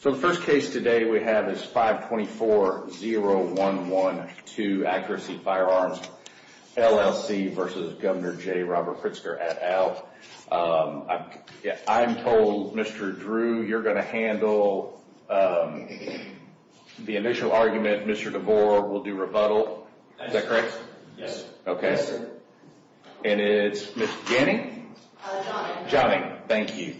So the first case today we have is 524-0112 Accuracy Firearms, LLC v. Governor J. Robert Pritzker, et al. I'm told, Mr. Drew, you're going to handle the initial argument. Mr. DeVore will do rebuttal. Is that correct? Yes. Okay. Yes, sir. And it's Mr. Ganning? Jonning. Jonning. Thank you.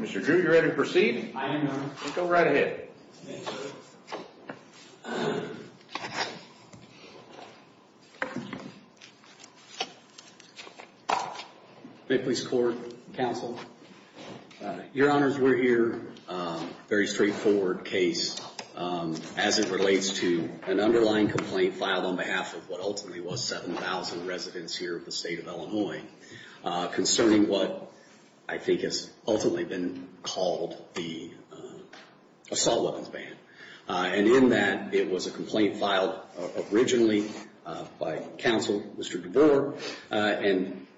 Mr. Drew, you ready to proceed? I am, Your Honor. Then go right ahead. May it please the Court, Counsel, Your Honors, we're here. Very straightforward case as it relates to an underlying complaint filed on behalf of what ultimately was 7,000 residents here of the state of Illinois concerning what I think has ultimately been called the assault weapons ban. And in that, it was a complaint filed originally by counsel, Mr. DeVore.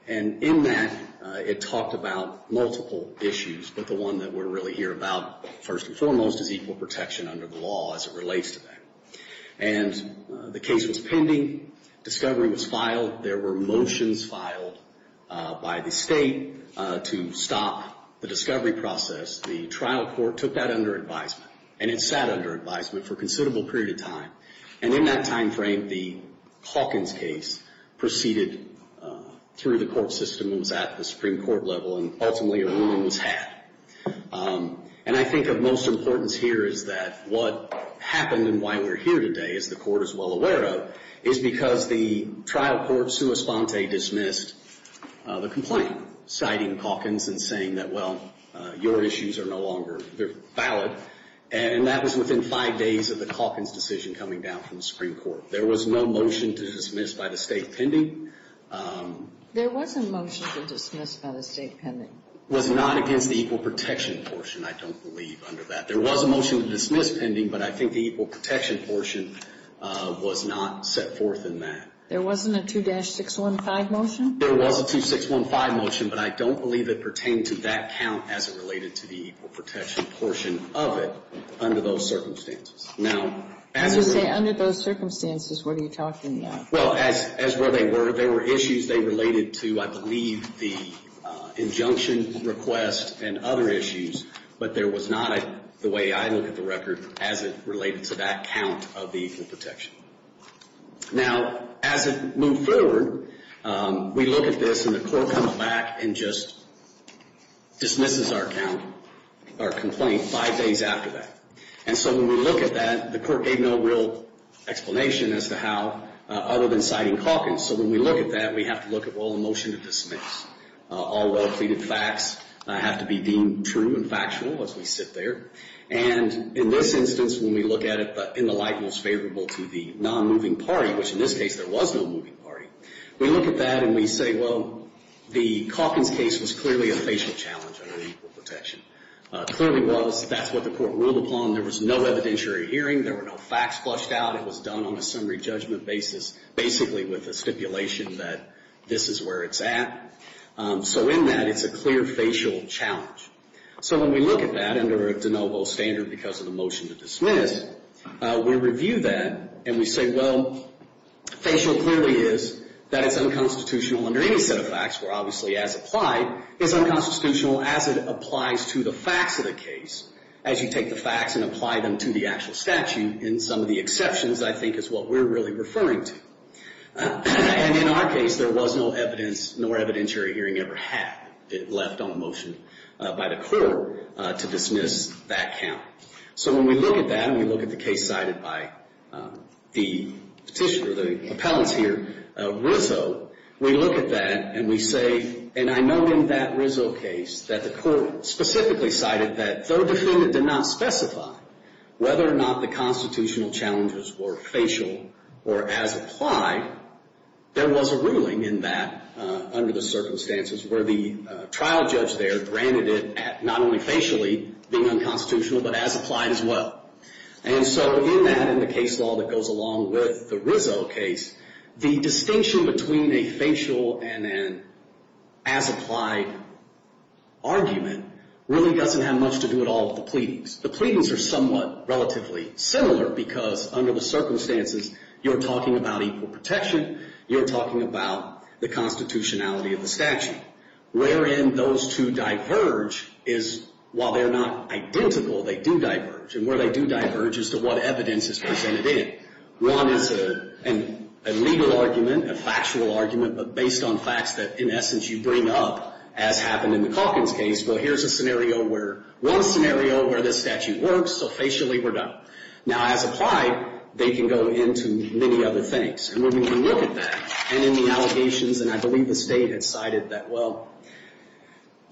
And in that, it talked about multiple issues, but the one that we're really here about first and foremost is equal protection under the law as it relates to that. And the case was pending. Discovery was filed. There were motions filed by the state to stop the discovery process. The trial court took that under advisement, and it sat under advisement for a considerable period of time. And in that time frame, the Hawkins case proceeded through the court system and was at the Supreme Court level, and ultimately a ruling was had. And I think of most importance here is that what happened and why we're here today, as the court is well aware of, is because the trial court sua sponte dismissed the complaint, citing Hawkins and saying that, well, your issues are no longer valid. And that was within five days of the Hawkins decision coming down from the Supreme Court. There was no motion to dismiss by the state pending. There was a motion to dismiss by the state pending. It was not against the equal protection portion, I don't believe, under that. There was a motion to dismiss pending, but I think the equal protection portion was not set forth in that. There wasn't a 2-615 motion? There was a 2-615 motion, but I don't believe it pertained to that count as it related to the equal protection portion of it under those circumstances. As you say, under those circumstances, what are you talking about? Well, as where they were, there were issues they related to, I believe, the injunction request and other issues, but there was not, the way I look at the record, as it related to that count of the equal protection. Now, as it moved forward, we look at this and the court comes back and just dismisses our count, our complaint, five days after that. And so when we look at that, the court gave no real explanation as to how, other than citing Calkins. So when we look at that, we have to look at, well, a motion to dismiss. All well-pleaded facts have to be deemed true and factual as we sit there. And in this instance, when we look at it in the light most favorable to the nonmoving party, which in this case there was no moving party, we look at that and we say, well, the Calkins case was clearly a facial challenge under the equal protection. Clearly was. That's what the court ruled upon. There was no evidentiary hearing. There were no facts flushed out. It was done on a summary judgment basis, basically with the stipulation that this is where it's at. So in that, it's a clear facial challenge. So when we look at that under a de novo standard because of the motion to dismiss, we review that and we say, well, facial clearly is that it's unconstitutional under any set of facts, where obviously as applied, it's unconstitutional as it applies to the facts of the case, as you take the facts and apply them to the actual statute in some of the exceptions I think is what we're really referring to. And in our case, there was no evidence nor evidentiary hearing ever had left on a motion by the court to dismiss that count. So when we look at that and we look at the case cited by the petitioner, the appellants here, Rizzo, we look at that and we say, and I know in that Rizzo case that the court specifically cited that though the defendant did not specify whether or not the constitutional challenges were facial or as applied, there was a ruling in that under the circumstances where the trial judge there granted it not only facially, being unconstitutional, but as applied as well. And so in that, in the case law that goes along with the Rizzo case, the distinction between a facial and an as applied argument really doesn't have much to do at all with the pleadings. The pleadings are somewhat relatively similar because under the circumstances, you're talking about equal protection, you're talking about the constitutionality of the statute, wherein those two diverge is while they're not identical, they do diverge. And where they do diverge is to what evidence is presented in. One is a legal argument, a factual argument, but based on facts that in essence you bring up, as happened in the Calkins case, well, here's a scenario where one scenario where this statute works, so facially we're done. Now, as applied, they can go into many other things. And when we can look at that and in the allegations, and I believe the State had cited that, well,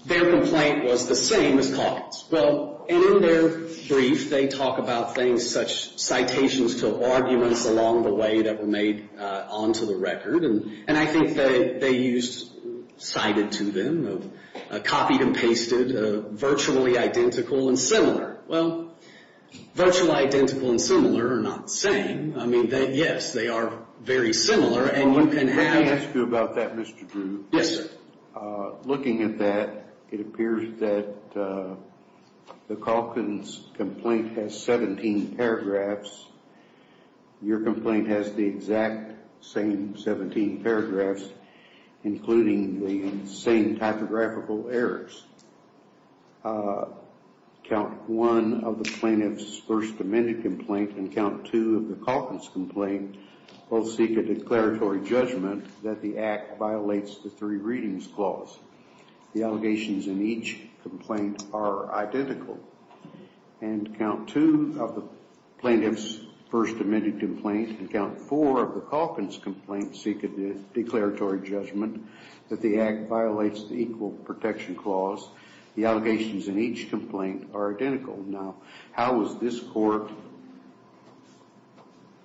their complaint was the same as Calkins. Well, and in their brief, they talk about things such citations to arguments along the way that were made onto the record. And I think that they used cited to them, copied and pasted, virtually identical and similar. Well, virtually identical and similar are not the same. I mean, yes, they are very similar. Let me ask you about that, Mr. Drew. Yes, sir. Looking at that, it appears that the Calkins complaint has 17 paragraphs. Your complaint has the exact same 17 paragraphs, including the same typographical errors. Count one of the plaintiff's first amended complaint and count two of the Calkins complaint both seek a declaratory judgment that the act violates the three readings clause. The allegations in each complaint are identical. And count two of the plaintiff's first amended complaint and count four of the Calkins complaint seek a declaratory judgment that the act violates the equal protection clause. The allegations in each complaint are identical. Now, how is this court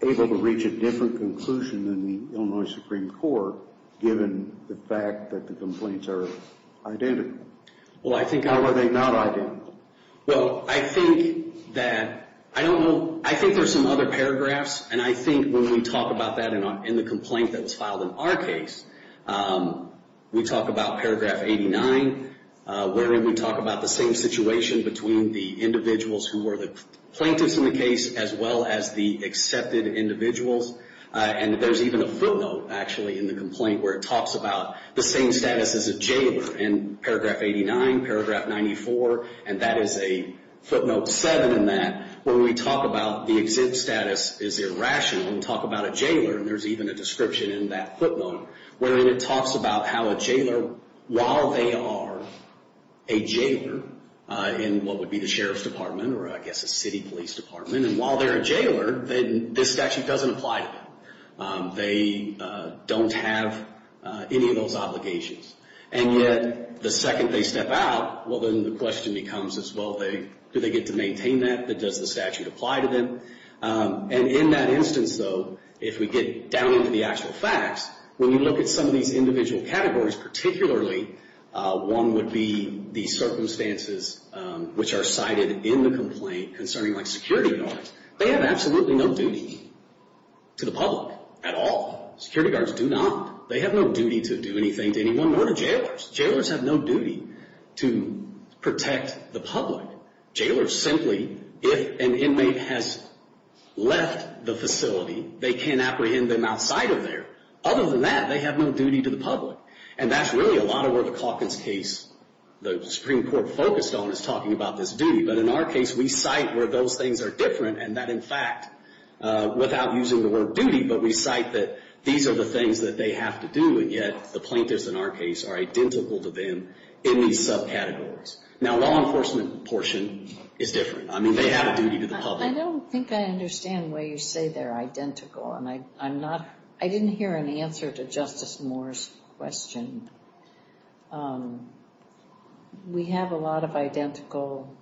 able to reach a different conclusion than the Illinois Supreme Court, given the fact that the complaints are identical? How are they not identical? Well, I think that, I don't know, I think there's some other paragraphs, and I think when we talk about that in the complaint that was filed in our case, we talk about paragraph 89, wherein we talk about the same situation between the individuals who were the plaintiffs in the case as well as the accepted individuals. And there's even a footnote, actually, in the complaint, where it talks about the same status as a jailer in paragraph 89, paragraph 94, and that is a footnote 7 in that, where we talk about the exempt status is irrational, and we talk about a jailer, and there's even a description in that footnote, wherein it talks about how a jailer, while they are a jailer, in what would be the sheriff's department or, I guess, a city police department, and while they're a jailer, then this statute doesn't apply to them. They don't have any of those obligations. And yet, the second they step out, well, then the question becomes is, well, do they get to maintain that? Does the statute apply to them? And in that instance, though, if we get down into the actual facts, when you look at some of these individual categories, particularly one would be the circumstances which are cited in the complaint concerning, like, security guards, they have absolutely no duty to the public at all. Security guards do not. They have no duty to do anything to anyone, nor to jailers. Jailers have no duty to protect the public. Jailers simply, if an inmate has left the facility, they can't apprehend them outside of there. Other than that, they have no duty to the public. And that's really a lot of where the Calkins case, the Supreme Court focused on, is talking about this duty. But in our case, we cite where those things are different, and that, in fact, without using the word duty, but we cite that these are the things that they have to do, and yet the plaintiffs in our case are identical to them in these subcategories. Now, law enforcement portion is different. I mean, they have a duty to the public. I don't think I understand why you say they're identical, and I'm not – I didn't hear an answer to Justice Moore's question. We have a lot of identical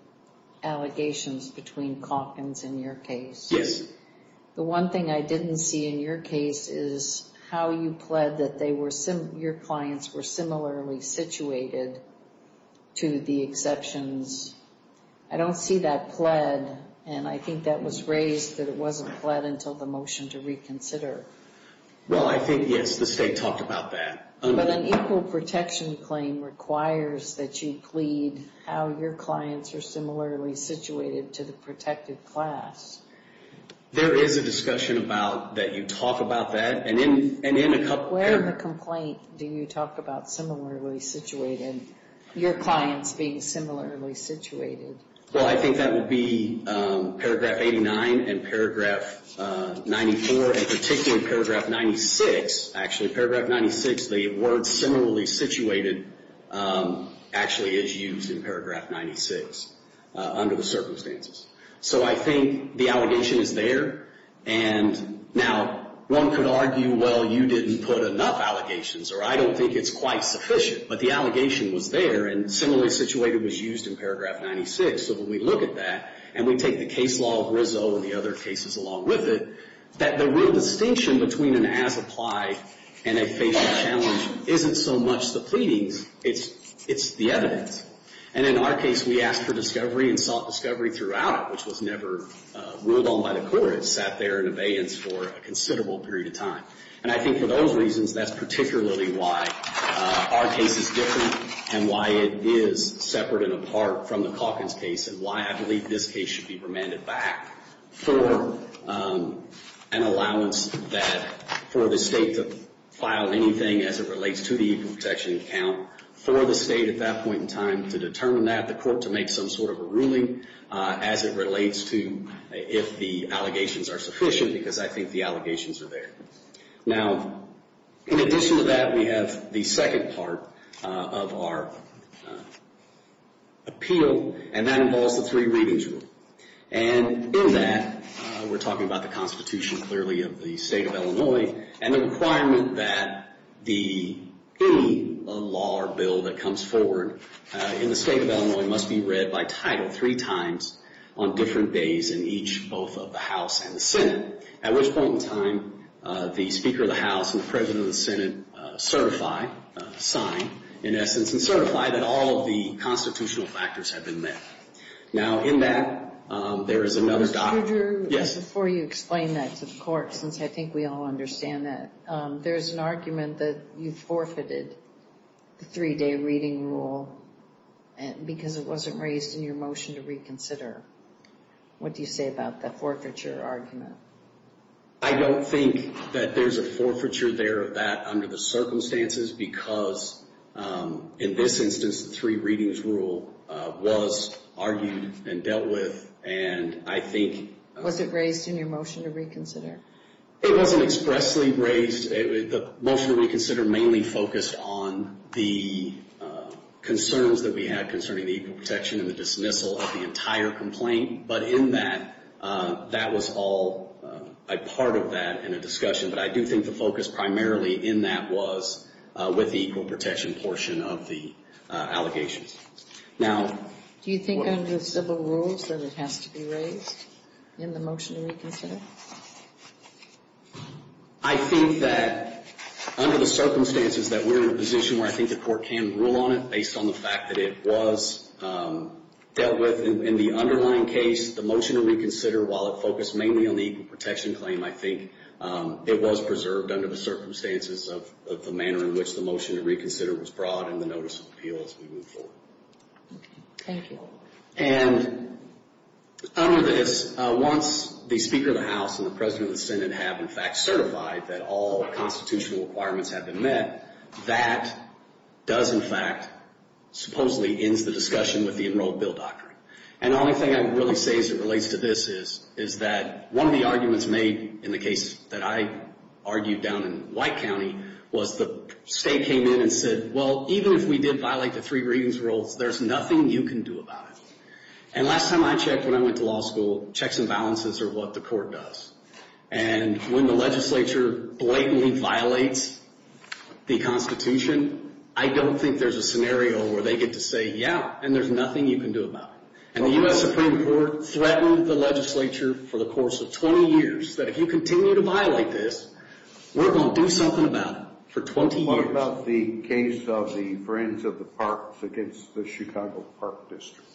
allegations between Calkins in your case. Yes. The one thing I didn't see in your case is how you pled that they were – the exceptions. I don't see that pled, and I think that was raised that it wasn't pled until the motion to reconsider. Well, I think, yes, the state talked about that. But an equal protection claim requires that you plead how your clients are similarly situated to the protected class. There is a discussion about that you talk about that, and in a couple – do you talk about similarly situated, your clients being similarly situated? Well, I think that would be Paragraph 89 and Paragraph 94, and particularly Paragraph 96, actually. Paragraph 96, the word similarly situated actually is used in Paragraph 96 under the circumstances. So I think the allegation is there, and now one could argue, well, you didn't put enough allegations, or I don't think it's quite sufficient, but the allegation was there, and similarly situated was used in Paragraph 96. So when we look at that, and we take the case law of Rizzo and the other cases along with it, that the real distinction between an as-applied and a facial challenge isn't so much the pleadings. It's the evidence. And in our case, we asked for discovery and sought discovery throughout, which was never ruled on by the court. It sat there in abeyance for a considerable period of time. And I think for those reasons, that's particularly why our case is different and why it is separate and apart from the Calkins case and why I believe this case should be remanded back for an allowance that – for the state to file anything as it relates to the equal protection account for the state at that point in time to determine that, the court to make some sort of a ruling as it relates to if the allegations are sufficient, because I think the allegations are there. Now, in addition to that, we have the second part of our appeal, and that involves the three readings rule. And in that, we're talking about the Constitution clearly of the State of Illinois and the requirement that any law or bill that comes forward in the State of Illinois must be read by title three times on different days in each – both of the House and the Senate, at which point in time the Speaker of the House and the President of the Senate certify, sign, in essence, and certify that all of the constitutional factors have been met. Now, in that, there is another – Dr. Drew, before you explain that to the court, since I think we all understand that, there is an argument that you forfeited the three-day reading rule because it wasn't raised in your motion to reconsider. What do you say about that forfeiture argument? I don't think that there's a forfeiture there of that under the circumstances because, in this instance, the three readings rule was argued and dealt with, and I think – Was it raised in your motion to reconsider? It wasn't expressly raised. The motion to reconsider mainly focused on the concerns that we had concerning the equal protection and the dismissal of the entire complaint. But in that, that was all a part of that in a discussion. But I do think the focus primarily in that was with the equal protection portion of the allegations. Now – Do you think under civil rules that it has to be raised in the motion to reconsider? I think that under the circumstances that we're in a position where I think the court can rule on it based on the fact that it was dealt with in the underlying case, the motion to reconsider, while it focused mainly on the equal protection claim, I think it was preserved under the circumstances of the manner in which the motion to reconsider was brought in the notice of appeal as we move forward. Thank you. And under this, once the Speaker of the House and the President of the Senate have, in fact, certified that all constitutional requirements have been met, that does, in fact, supposedly ends the discussion with the Enrolled Bill Doctrine. And the only thing I would really say as it relates to this is that one of the arguments made in the case that I argued down in White County was the state came in and said, well, even if we did violate the three readings rules, there's nothing you can do about it. And last time I checked when I went to law school, checks and balances are what the court does. And when the legislature blatantly violates the Constitution, I don't think there's a scenario where they get to say, yeah, and there's nothing you can do about it. And the U.S. Supreme Court threatened the legislature for the course of 20 years that if you continue to violate this, we're going to do something about it for 20 years. What about the case of the Friends of the Parks against the Chicago Park District?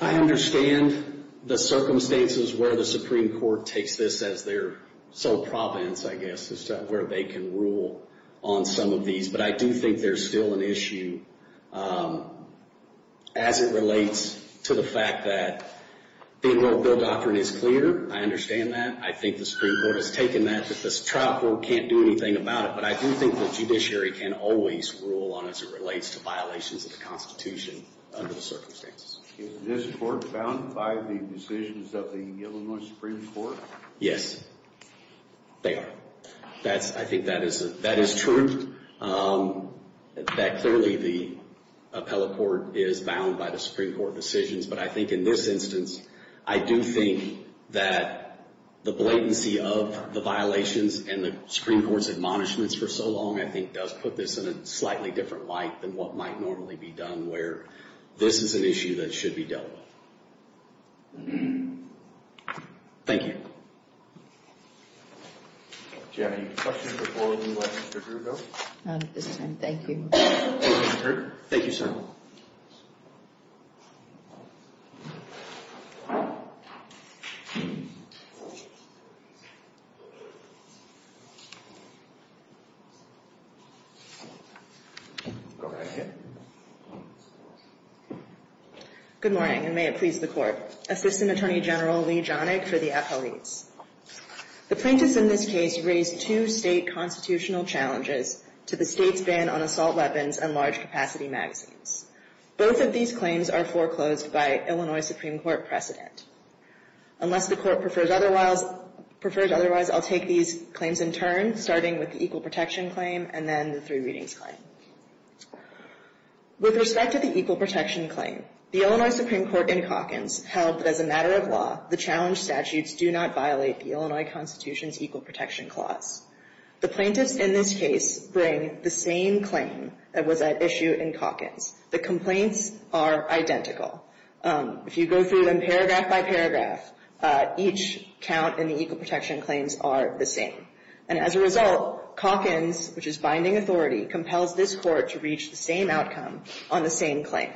I understand the circumstances where the Supreme Court takes this as their sole province, I guess, where they can rule on some of these. But I do think there's still an issue as it relates to the fact that the Enrolled Bill Doctrine is clear. I understand that. I think the Supreme Court has taken that that the trial court can't do anything about it. But I do think the judiciary can always rule on it as it relates to violations of the Constitution under the circumstances. Is this court bound by the decisions of the Illinois Supreme Court? Yes, they are. I think that is true, that clearly the appellate court is bound by the Supreme Court decisions. But I think in this instance, I do think that the blatancy of the violations and the Supreme Court's admonishments for so long I think does put this in a slightly different light than what might normally be done where this is an issue that should be dealt with. Thank you. Do you have any questions before we let Mr. Kruger go? Not at this time, thank you. Thank you, Mr. Kruger. Thank you, sir. Go right ahead. Good morning, and may it please the Court. Assistant Attorney General Lee Jonig for the appellates. The plaintiffs in this case raised two state constitutional challenges to the state's ban on assault weapons and large capacity magazines. Both of these claims are foreclosed by Illinois Supreme Court precedent. Unless the Court prefers otherwise, I'll take these claims in turn, starting with the Equal Protection Claim and then the Three Readings Claim. With respect to the Equal Protection Claim, the Illinois Supreme Court in Calkins held that as a matter of law, the challenge statutes do not violate the Illinois Constitution's Equal Protection Clause. The plaintiffs in this case bring the same claim that was at issue in Calkins. The complaints are identical. If you go through them paragraph by paragraph, each count in the Equal Protection Claims are the same. And as a result, Calkins, which is binding authority, compels this Court to reach the same outcome on the same claim.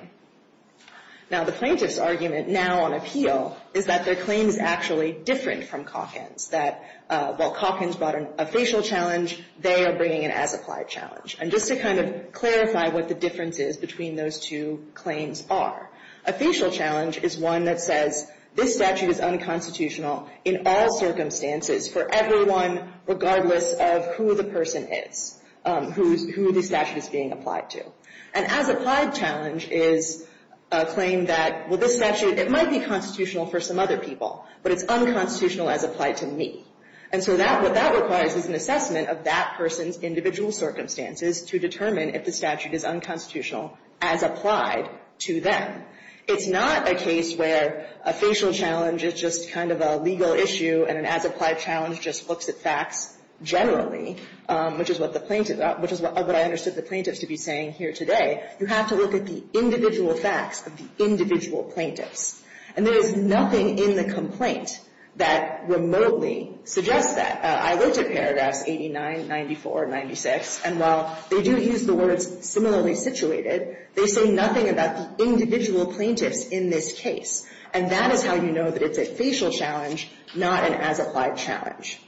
Now, the plaintiff's argument now on appeal is that their claim is actually different from Calkins, that while Calkins brought a facial challenge, they are bringing an as-applied challenge. And just to kind of clarify what the difference is between those two claims are, a facial challenge is one that says this statute is unconstitutional in all circumstances, for everyone, regardless of who the person is, who the statute is being applied to. An as-applied challenge is a claim that, well, this statute, it might be constitutional for some other people, but it's unconstitutional as applied to me. And so that, what that requires is an assessment of that person's individual circumstances to determine if the statute is unconstitutional as applied to them. It's not a case where a facial challenge is just kind of a legal issue and an as-applied challenge just looks at facts generally, which is what the plaintiffs, which is what I understood the plaintiffs to be saying here today. You have to look at the individual facts of the individual plaintiffs. And there is nothing in the complaint that remotely suggests that. I looked at paragraphs 89, 94, 96, and while they do use the words similarly situated, they say nothing about the individual plaintiffs in this case. And that is how you know that it's a facial challenge, not an as-applied challenge.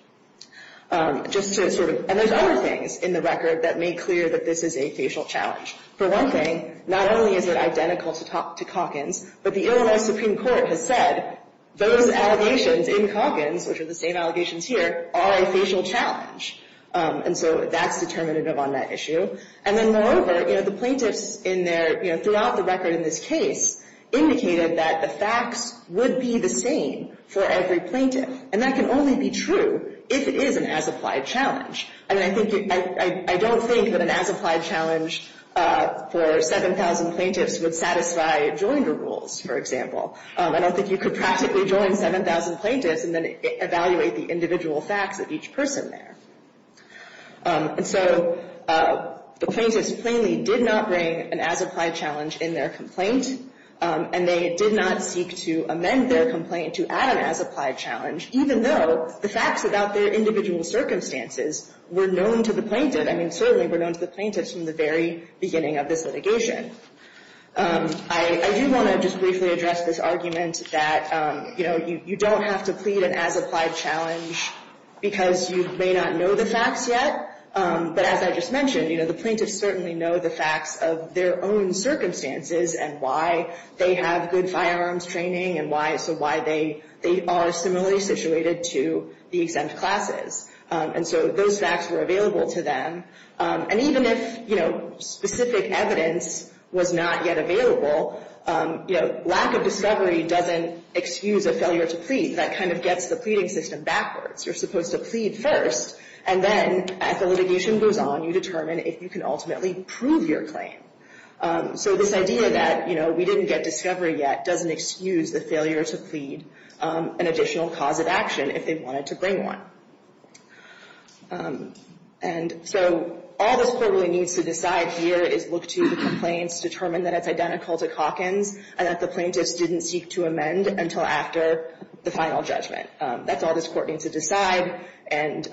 Just to sort of, and there's other things in the record that make clear that this is a facial challenge. For one thing, not only is it identical to Calkins, but the Illinois Supreme Court has said those allegations in Calkins, which are the same allegations here, are a facial challenge. And so that's determinative on that issue. And then moreover, you know, the plaintiffs in their, you know, throughout the record in this case indicated that the facts would be the same for every plaintiff. And that can only be true if it is an as-applied challenge. And I think, I don't think that an as-applied challenge for 7,000 plaintiffs would satisfy Joinder rules, for example. I don't think you could practically join 7,000 plaintiffs and then evaluate the individual facts of each person there. And so the plaintiffs plainly did not bring an as-applied challenge in their complaint, and they did not seek to amend their complaint to add an as-applied challenge, even though the facts about their individual circumstances were known to the plaintiff. I mean, certainly were known to the plaintiffs from the very beginning of this litigation. I do want to just briefly address this argument that, you know, you don't have to plead an as-applied challenge because you may not know the facts yet. But as I just mentioned, you know, the plaintiffs certainly know the facts of their own circumstances and why they have good firearms training and so why they are similarly situated to the exempt classes. And so those facts were available to them. And even if, you know, specific evidence was not yet available, you know, lack of discovery doesn't excuse a failure to plead. That kind of gets the pleading system backwards. You're supposed to plead first, and then as the litigation goes on, you determine if you can ultimately prove your claim. So this idea that, you know, we didn't get discovery yet doesn't excuse the failure to plead an additional cause of action if they wanted to bring one. And so all this court really needs to decide here is look to the complaints, determine that it's identical to Calkins, and that the plaintiffs didn't seek to amend until after the final judgment. That's all this court needs to decide. And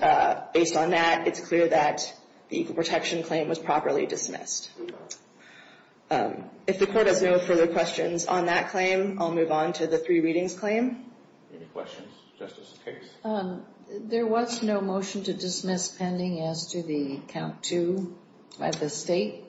based on that, it's clear that the Equal Protection Claim was properly dismissed. If the Court has no further questions on that claim, I'll move on to the Three Readings Claim. Any questions? Justice Case? There was no motion to dismiss pending as to the count two at the State.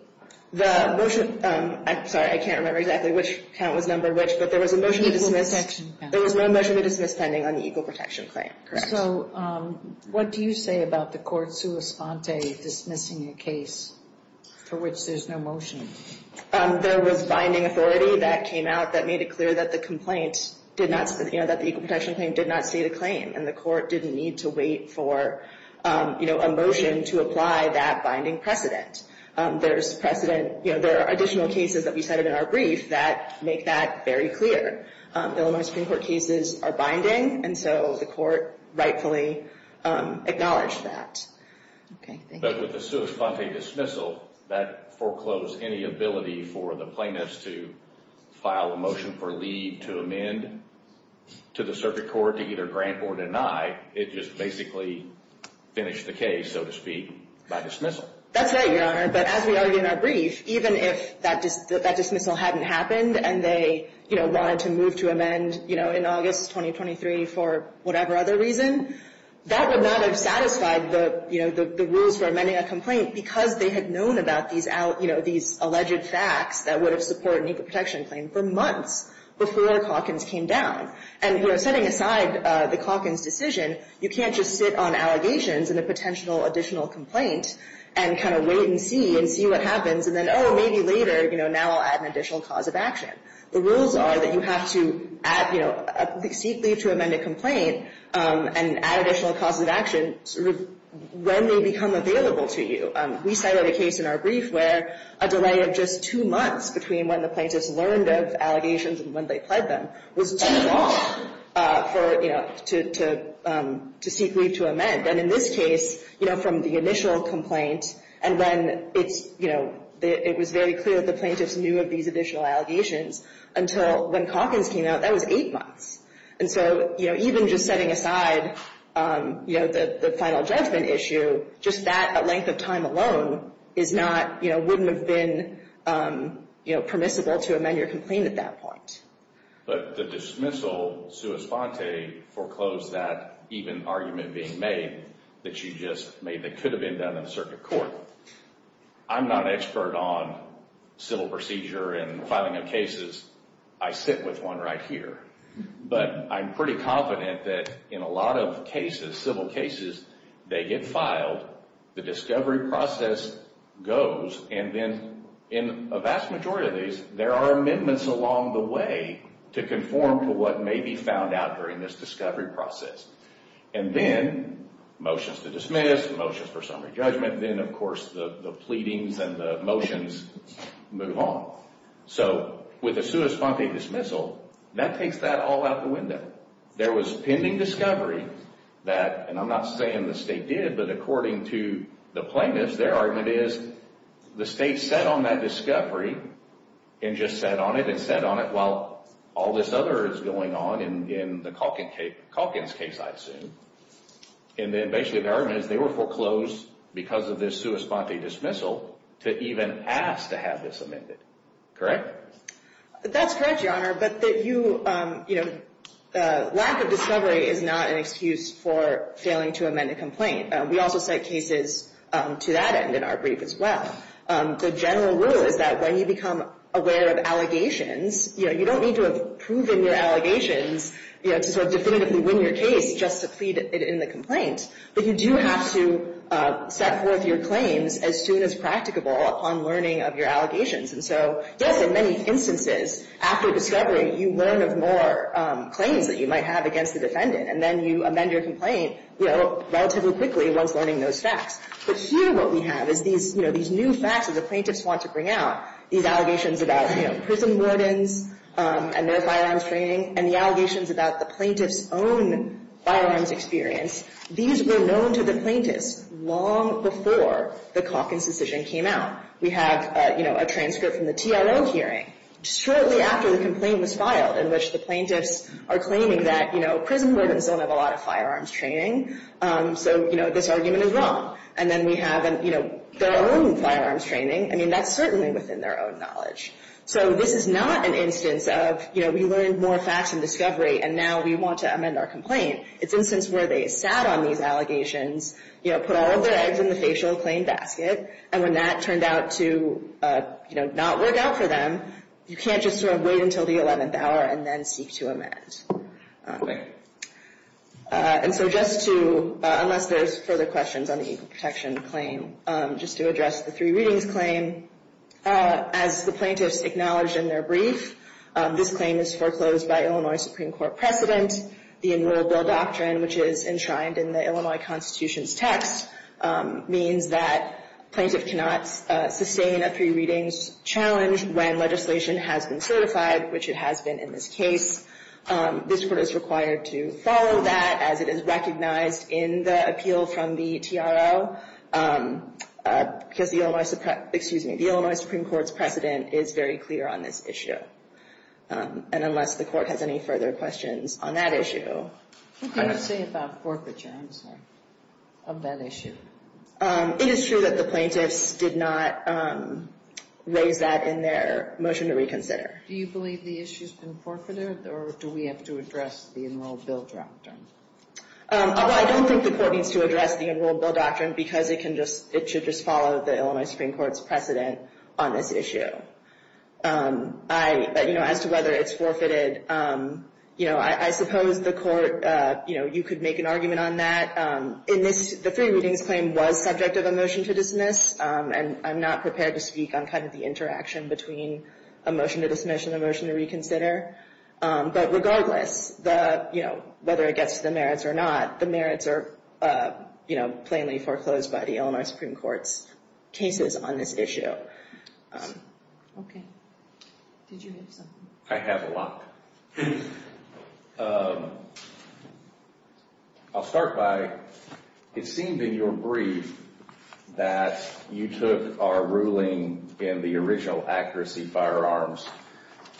The motion to the State? I'm sorry. I can't remember exactly which count was numbered which, but there was a motion to dismiss. Equal Protection Pending. There was no motion to dismiss pending on the Equal Protection Claim. Correct. So what do you say about the Court's sua sponte dismissing a case for which there's no motion? There was binding authority that came out that made it clear that the Equal Protection Claim did not state a claim, and the Court didn't need to wait for a motion to apply that binding precedent. There are additional cases that we cited in our brief that make that very clear. Illinois Supreme Court cases are binding, and so the Court rightfully acknowledged that. Thank you. But with the sua sponte dismissal, that foreclosed any ability for the plaintiffs to file a motion for leave to amend to the circuit court to either grant or deny. It just basically finished the case, so to speak, by dismissal. That's right, Your Honor. But as we argue in our brief, even if that dismissal hadn't happened and they wanted to move to amend in August 2023 for whatever other reason, that would not have satisfied the rules for amending a complaint because they had known about these alleged facts that would have supported an Equal Protection Claim for months before Calkins came down. And setting aside the Calkins decision, you can't just sit on allegations in a potential additional complaint and kind of wait and see and see what happens. And then, oh, maybe later, you know, now I'll add an additional cause of action. The rules are that you have to add, you know, seek leave to amend a complaint and add additional causes of action when they become available to you. We cited a case in our brief where a delay of just two months between when the plaintiffs learned of allegations and when they pled them was too long for, you know, to seek leave to amend. And in this case, you know, from the initial complaint and then it's, you know, it was very clear that the plaintiffs knew of these additional allegations until when Calkins came out, that was eight months. And so, you know, even just setting aside, you know, the final judgment issue, just that length of time alone is not, you know, wouldn't have been, you know, permissible to amend your complaint at that point. But the dismissal, Sue Esponte foreclosed that even argument being made that she just made that could have been done in a circuit court. I'm not an expert on civil procedure and filing of cases. I sit with one right here. But I'm pretty confident that in a lot of cases, civil cases, they get filed, the discovery process goes, and then in a vast majority of these, there are amendments along the way to conform to what may be found out during this discovery process. And then motions to dismiss, motions for summary judgment, then of course the pleadings and the motions move on. So with a Sue Esponte dismissal, that takes that all out the window. There was pending discovery that, and I'm not saying the state did, but according to the plaintiffs, their argument is the state set on that discovery and just sat on it and sat on it while all this other is going on in the Calkins case, I assume. And then basically their argument is they were foreclosed because of this Sue Esponte dismissal to even ask to have this amended. Correct? That's correct, Your Honor. But that you, you know, lack of discovery is not an excuse for failing to amend a complaint. We also cite cases to that end in our brief as well. The general rule is that when you become aware of allegations, you know, you don't need to have proven your allegations, you know, to sort of definitively win your case just to plead it in the complaint. But you do have to set forth your claims as soon as practicable upon learning of your allegations. And so, yes, in many instances after discovery, you learn of more claims that you might have against the defendant, and then you amend your complaint, you know, relatively quickly once learning those facts. But here what we have is these, you know, these new facts that the plaintiffs want to bring out, these allegations about, you know, prison wardens and their firearms training and the allegations about the plaintiff's own firearms experience. These were known to the plaintiffs long before the Calkins decision came out. We have, you know, a transcript from the TLO hearing shortly after the complaint was filed in which the plaintiffs are claiming that, you know, prison wardens don't have a lot of firearms training, so, you know, this argument is wrong. And then we have, you know, their own firearms training. I mean, that's certainly within their own knowledge. So this is not an instance of, you know, we learned more facts in discovery, and now we want to amend our complaint. It's an instance where they sat on these allegations, you know, put all of their eggs in the facial claim basket, and when that turned out to, you know, not work out for them, you can't just sort of wait until the 11th hour and then seek to amend. And so just to, unless there's further questions on the equal protection claim, just to address the three readings claim, as the plaintiffs acknowledged in their brief, this claim is foreclosed by Illinois Supreme Court precedent. The enroll bill doctrine, which is enshrined in the Illinois Constitution's text, means that plaintiff cannot sustain a three readings challenge when legislation has been certified, which it has been in this case. This Court is required to follow that as it is recognized in the appeal from the TRO, because the Illinois Supreme Court's precedent is very clear on this issue. And unless the Court has any further questions on that issue. What can you say about forfeiture, I'm sorry, of that issue? It is true that the plaintiffs did not raise that in their motion to reconsider. Do you believe the issue's been forfeited, or do we have to address the enroll bill doctrine? Well, I don't think the Court needs to address the enroll bill doctrine, because it should just follow the Illinois Supreme Court's precedent on this issue. As to whether it's forfeited, I suppose the Court could make an argument on that. The three readings claim was subject of a motion to dismiss, and I'm not prepared to speak on the interaction between a motion to dismiss and a motion to reconsider. But regardless, whether it gets to the merits or not, the merits are plainly foreclosed by the Illinois Supreme Court's cases on this issue. Okay. Did you have something? I have a lot. I'll start by, it seemed in your brief that you took our ruling in the original accuracy firearms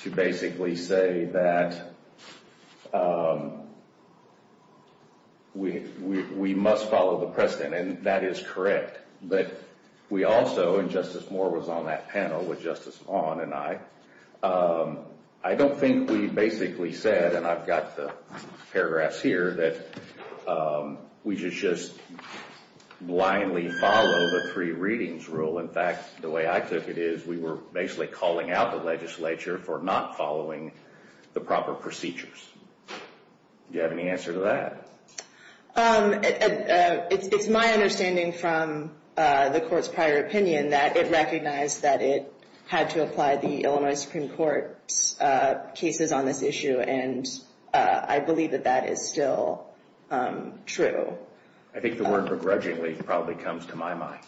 to basically say that we must follow the precedent, and that is correct. But we also, and Justice Moore was on that panel with Justice Maughan and I, I don't think we basically said, and I've got the paragraphs here, that we should just blindly follow the three readings rule. In fact, the way I took it is we were basically calling out the legislature for not following the proper procedures. Do you have any answer to that? It's my understanding from the Court's prior opinion that it recognized that it had to apply the Illinois Supreme Court's cases on this issue, and I believe that that is still true. I think the word begrudgingly probably comes to my mind,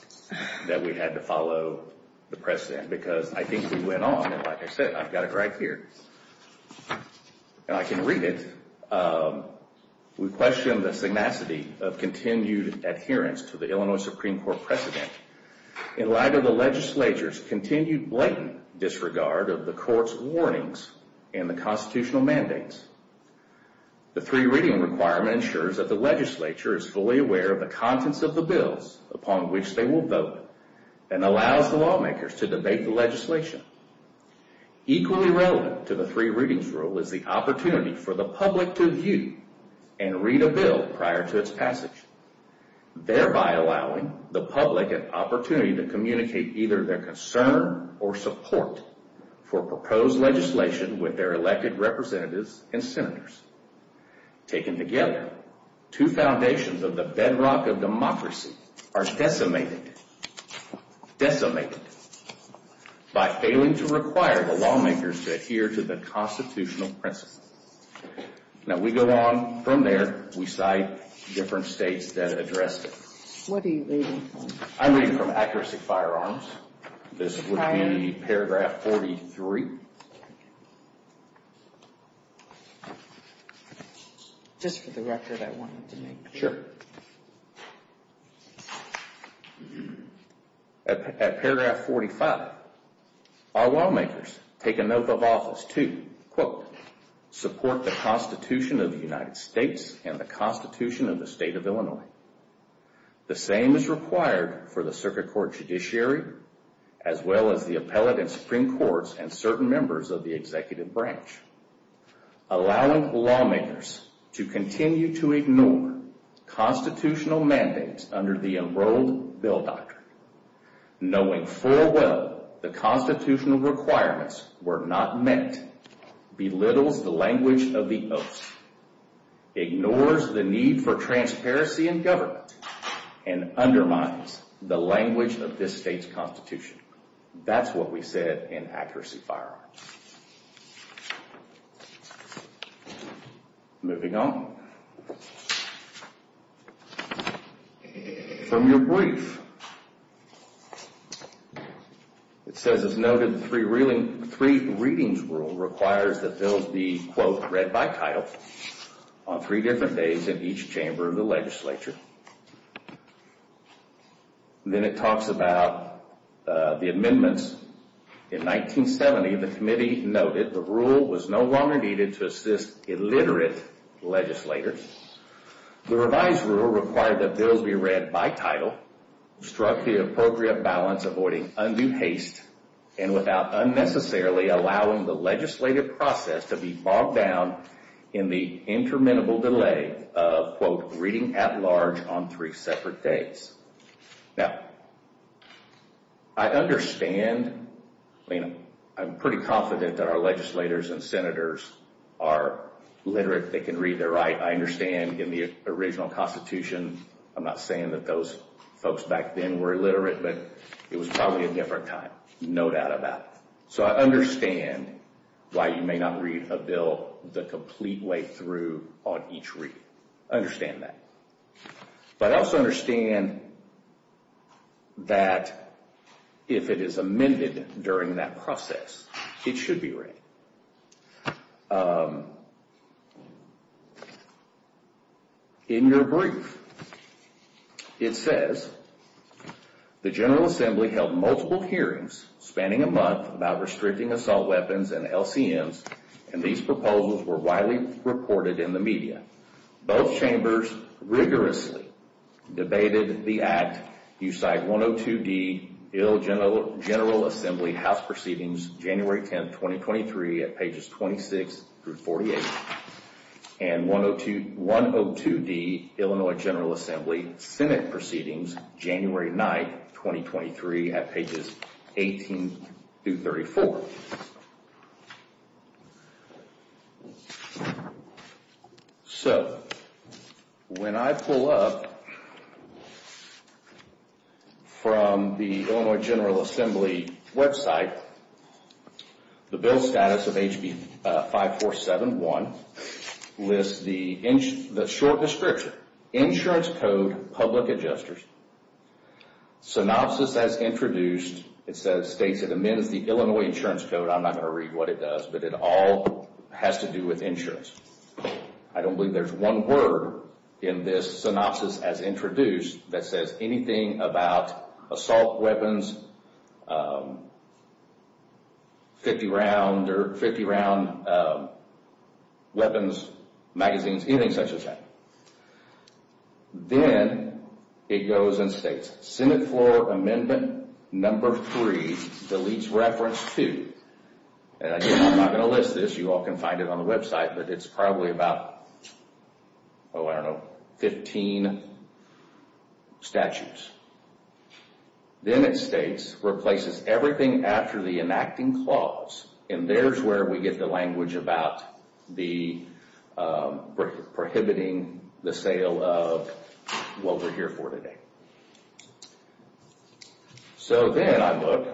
that we had to follow the precedent, because I think we went on, and like I said, I've got it right here, and I can read it. We question the synopsis of continued adherence to the Illinois Supreme Court precedent in light of the legislature's continued blatant disregard of the Court's warnings and the constitutional mandates. The three-reading requirement ensures that the legislature is fully aware of the contents of the bills upon which they will vote, and allows the lawmakers to debate the legislation. Equally relevant to the three-readings rule is the opportunity for the public to view and read a bill prior to its passage, thereby allowing the public an opportunity to communicate either their concern or support for proposed legislation with their elected representatives and senators. Taken together, two foundations of the bedrock of democracy are decimated decimated by failing to require the lawmakers to adhere to the constitutional principle. Now we go on from there. We cite different states that addressed it. What are you reading from? I'm reading from Accuracy Firearms. This would be in the paragraph 43. Just for the record, I wanted to make sure. At paragraph 45, our lawmakers take a note of office to, quote, support the Constitution of the United States and the Constitution of the State of Illinois. The same is required for the Circuit Court Judiciary, as well as the Appellate and Supreme Courts and certain members of the Executive Branch. Allowing lawmakers to continue to ignore constitutional mandates under the enrolled bill doctrine, knowing full well the constitutional requirements were not met, belittles the language of the oaths, ignores the need for transparency in government, and undermines the language of this state's Constitution. That's what we said in Accuracy Firearms. Moving on. From your brief. It says, as noted, the three readings rule requires that those be, quote, read by title on three different days in each chamber of the legislature. Then it talks about the amendments. In 1970, the committee noted the rule was no longer needed to assist illiterate legislators. The revised rule required that bills be read by title, struck the appropriate balance avoiding undue haste, and without unnecessarily allowing the legislative process to be bogged down in the interminable delay of, quote, reading at large on three separate days. Now, I understand, I mean, I'm pretty confident that our legislators and senators are literate. They can read their right. I understand in the original Constitution, I'm not saying that those folks back then were illiterate, but it was probably a different time. No doubt about it. So I understand why you may not read a bill the complete way through on each reading. I understand that. But I also understand that if it is amended during that process, it should be read. In your brief, it says, the General Assembly held multiple hearings spanning a month about restricting assault weapons and LCMs, and these proposals were widely reported in the media. Both chambers rigorously debated the act. You cite 102D, Ill General Assembly House Proceedings, January 10, 2023, at pages 26 through 48, and 102D, Illinois General Assembly Senate Proceedings, January 9, 2023, at pages 18 through 34. So, when I pull up from the Illinois General Assembly website, the bill status of HB 5471 lists the short description, Insurance Code, Public Adjusters. Synopsis as introduced, it states it amends the Illinois Insurance Code. I'm not going to read what it does, but it all has to do with insurance. I don't believe there's one word in this synopsis as introduced that says anything about assault weapons, 50-round weapons, magazines, anything such as that. Then it goes and states, Senate floor amendment number 3, deletes reference 2. Again, I'm not going to list this, you all can find it on the website, but it's probably about 15 statutes. Then it states, replaces everything after the enacting clause, and there's where we get the language about prohibiting the sale of what we're here for today. So, then I look.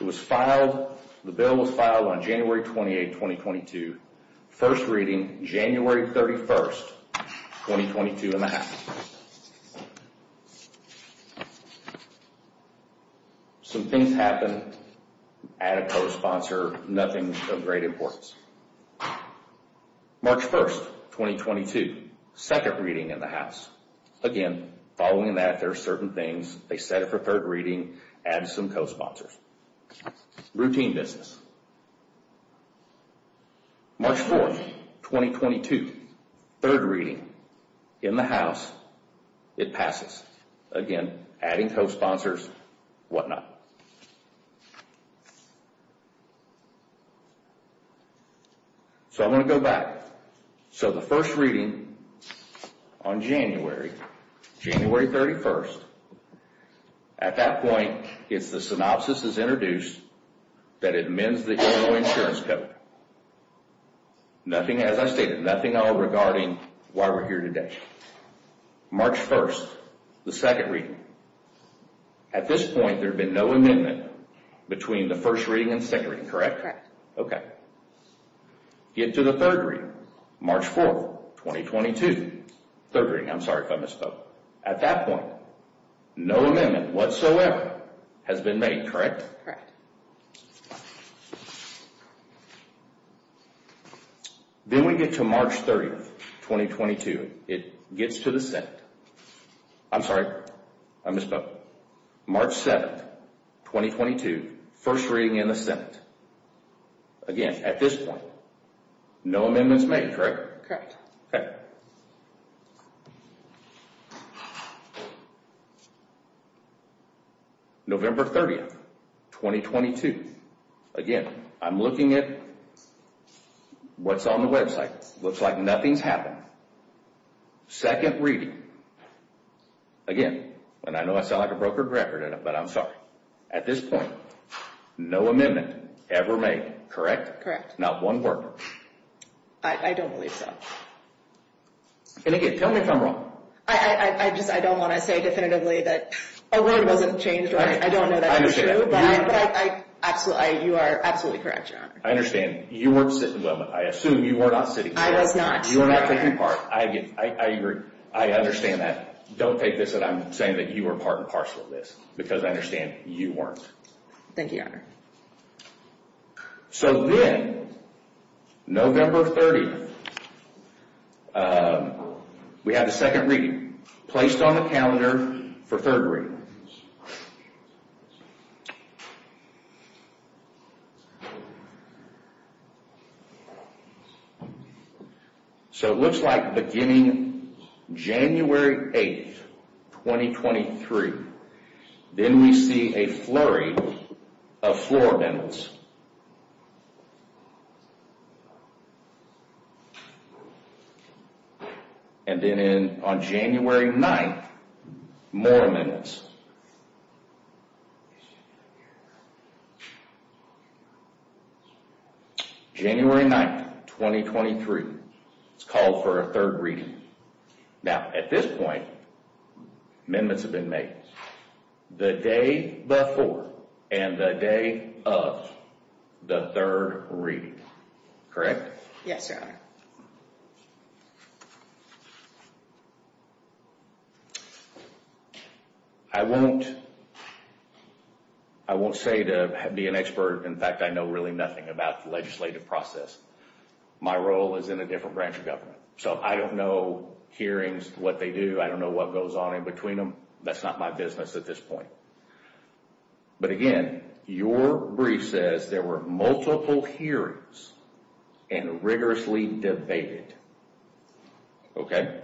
It was filed, the bill was filed on January 28, 2022. First reading, January 31, 2022 in the House. Some things happen, add a co-sponsor, nothing of great importance. March 1, 2022, second reading in the House. Again, following that, there are certain things, they set it for third reading, add some co-sponsors. Routine business. March 4, 2022, third reading in the House, it passes. Again, adding co-sponsors, whatnot. So, I'm going to go back. So, the first reading on January, January 31, at that point, the synopsis is introduced that amends the Illinois Insurance Code. Nothing, as I stated, nothing at all regarding why we're here today. March 1, the second reading. At this point, there had been no amendment between the first reading and second reading, correct? Correct. Okay. Get to the third reading, March 4, 2022. Third reading, I'm sorry if I misspoke. At that point, no amendment whatsoever has been made, correct? Correct. Then we get to March 30, 2022. It gets to the Senate. I'm sorry, I misspoke. March 7, 2022, first reading in the Senate. Again, at this point, no amendments made, correct? Correct. Okay. November 30, 2022. Again, I'm looking at what's on the website. Looks like nothing's happened. Second reading. Again, and I know I sound like a broken record, but I'm sorry. At this point, no amendment ever made, correct? Correct. Not one word. I don't believe so. And again, tell me if I'm wrong. I just don't want to say definitively that a word wasn't changed. I don't know that's true, but you are absolutely correct, Your Honor. I understand. You weren't sitting. I assume you were not sitting. I was not. You were not taking part. I understand that. Don't take this that I'm saying that you were part and parcel of this, because I understand you weren't. Thank you, Your Honor. So then, November 30th, we have the second reading placed on the calendar for third reading. So it looks like beginning January 8th, 2023. Then we see a flurry of floor amendments. And then on January 9th, more amendments. January 9th, 2023. It's called for a third reading. Now, at this point, amendments have been made the day before and the day of the third reading. Correct? Yes, Your Honor. I won't say to be an expert. In fact, I know really nothing about the legislative process. My role is in a different branch of government. So I don't know hearings, what they do. I don't know what goes on in between them. That's not my business at this point. But again, your brief says there were multiple hearings and rigorously debated. Okay?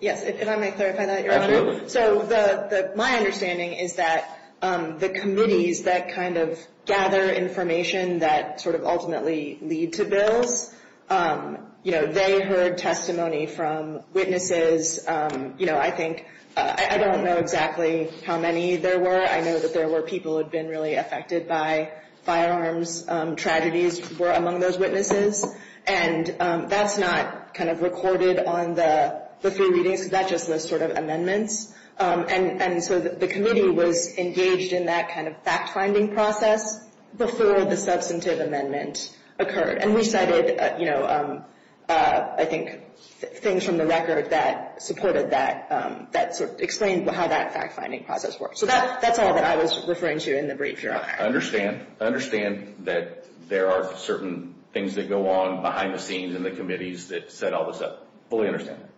Yes. Can I clarify that, Your Honor? Absolutely. So my understanding is that the committees that kind of gather information that sort of ultimately lead to bills, you know, they heard testimony from witnesses. You know, I think I don't know exactly how many there were. I know that there were people who had been really affected by firearms. Tragedies were among those witnesses. And that's not kind of recorded on the three readings. That's just those sort of amendments. And so the committee was engaged in that kind of fact-finding process before the substantive amendment occurred. And we cited, you know, I think things from the record that supported that, that sort of explained how that fact-finding process worked. So that's all that I was referring to in the brief, Your Honor. I understand. I understand that there are certain things that go on behind the scenes in the committees that set all this up. I fully understand that.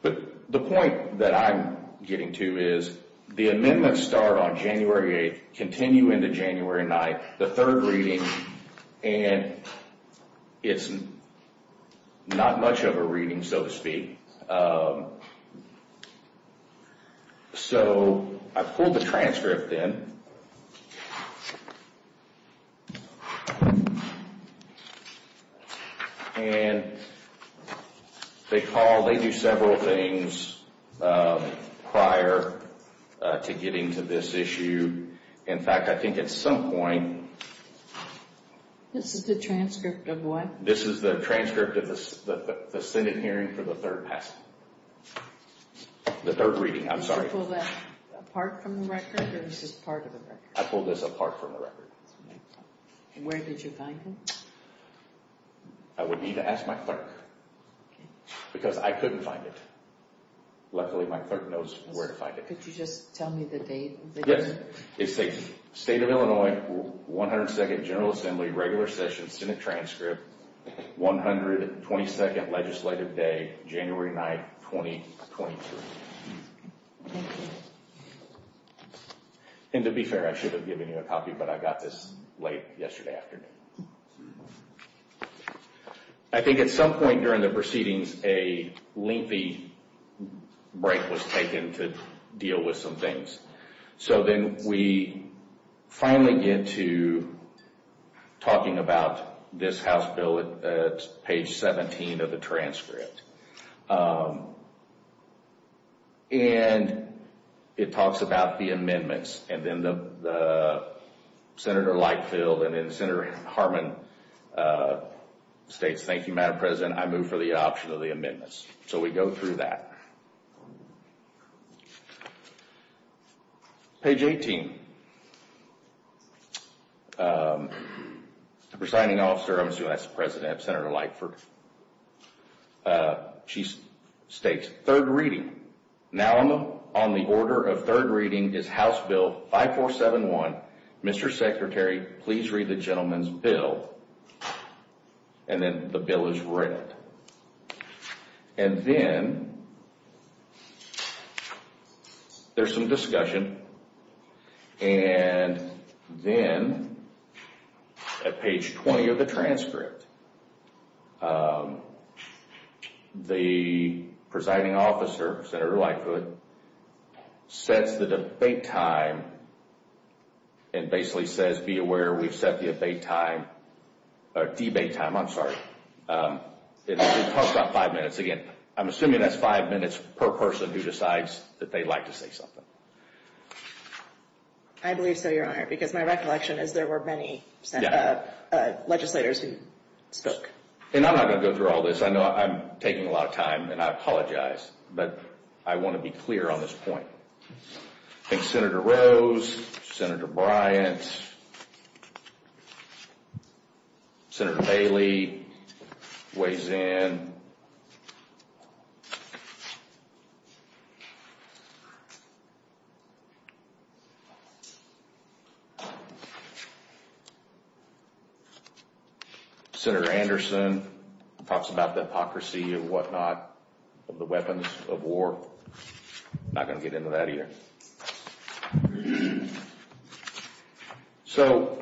But the point that I'm getting to is the amendments start on January 8th, continue into January 9th, the third reading, and it's not much of a reading, so to speak. So I pulled the transcript in. And they call, they do several things prior to getting to this issue. In fact, I think at some point. This is the transcript of what? This is the transcript of the Senate hearing for the third reading. I'm sorry. Did you pull that apart from the record or is this part of the record? I pulled this apart from the record. Where did you find it? I would need to ask my clerk because I couldn't find it. Luckily, my clerk knows where to find it. Could you just tell me the date? State of Illinois, 102nd General Assembly, regular session, Senate transcript, 122nd legislative day, January 9th, 2022. Thank you. And to be fair, I should have given you a copy, but I got this late yesterday afternoon. I think at some point during the proceedings, a lengthy break was taken to deal with some things. So then we finally get to talking about this House bill at page 17 of the transcript. And it talks about the amendments. And then Senator Lightfield and then Senator Harmon states, Thank you, Madam President, I move for the adoption of the amendments. So we go through that. Page 18. The presiding officer, I'm assuming that's the president, Senator Lightfield. She states, third reading. Now on the order of third reading is House Bill 5471. Mr. Secretary, please read the gentleman's bill. And then the bill is read. And then there's some discussion. And then at page 20 of the transcript, the presiding officer, Senator Lightfield, sets the debate time and basically says, Be aware, we've set the debate time. It talks about five minutes. Again, I'm assuming that's five minutes per person who decides that they'd like to say something. I believe so, Your Honor, because my recollection is there were many legislators who spoke. And I'm not going to go through all this. I know I'm taking a lot of time, and I apologize. But I want to be clear on this point. I think Senator Rose, Senator Bryant, Senator Bailey weighs in. Senator Anderson talks about the hypocrisy and whatnot of the weapons of war. I'm not going to get into that either. So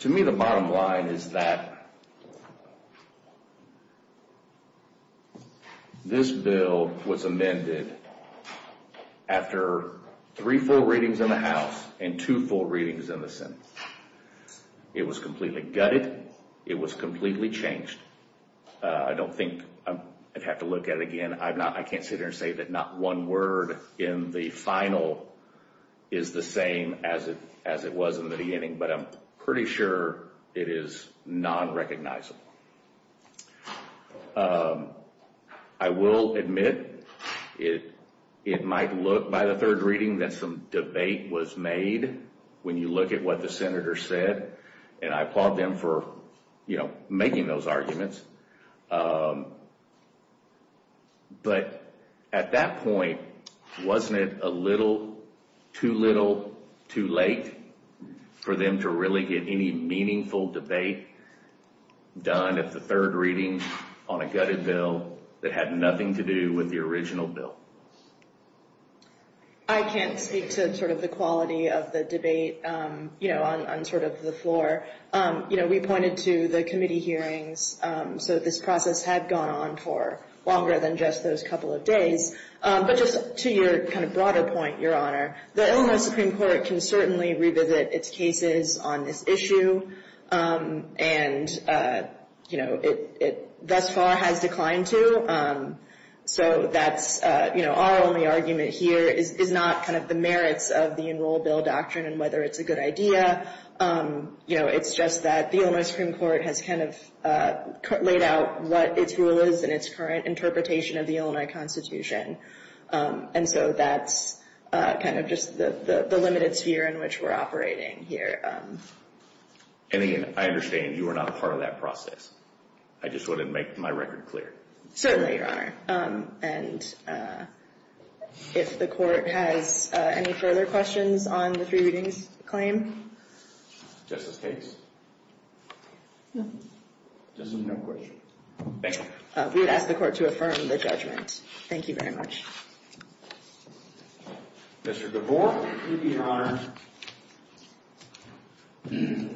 to me, the bottom line is that this bill was amended after three full readings in the House and two full readings in the Senate. It was completely gutted. It was completely changed. I don't think I'd have to look at it again. I can't sit here and say that not one word in the final is the same as it was in the beginning. But I'm pretty sure it is non-recognizable. I will admit it might look by the third reading that some debate was made when you look at what the senator said. And I applaud them for making those arguments. But at that point, wasn't it a little too little too late for them to really get any meaningful debate done at the third reading on a gutted bill that had nothing to do with the original bill? I can't speak to sort of the quality of the debate, you know, on sort of the floor. You know, we pointed to the committee hearings. So this process had gone on for longer than just those couple of days. But just to your kind of broader point, Your Honor, the Illinois Supreme Court can certainly revisit its cases on this issue. And, you know, it thus far has declined to. So that's, you know, our only argument here is not kind of the merits of the Enroll Bill Doctrine and whether it's a good idea. You know, it's just that the Illinois Supreme Court has kind of laid out what its rule is and its current interpretation of the Illinois Constitution. And so that's kind of just the limited sphere in which we're operating here. And again, I understand you are not a part of that process. I just want to make my record clear. Certainly, Your Honor. And if the court has any further questions on the three readings claim. Justice Cates? No. Justice, no questions. Thank you. We would ask the court to affirm the judgment. Thank you very much. Mr. DeVore? Thank you, Your Honor. Thank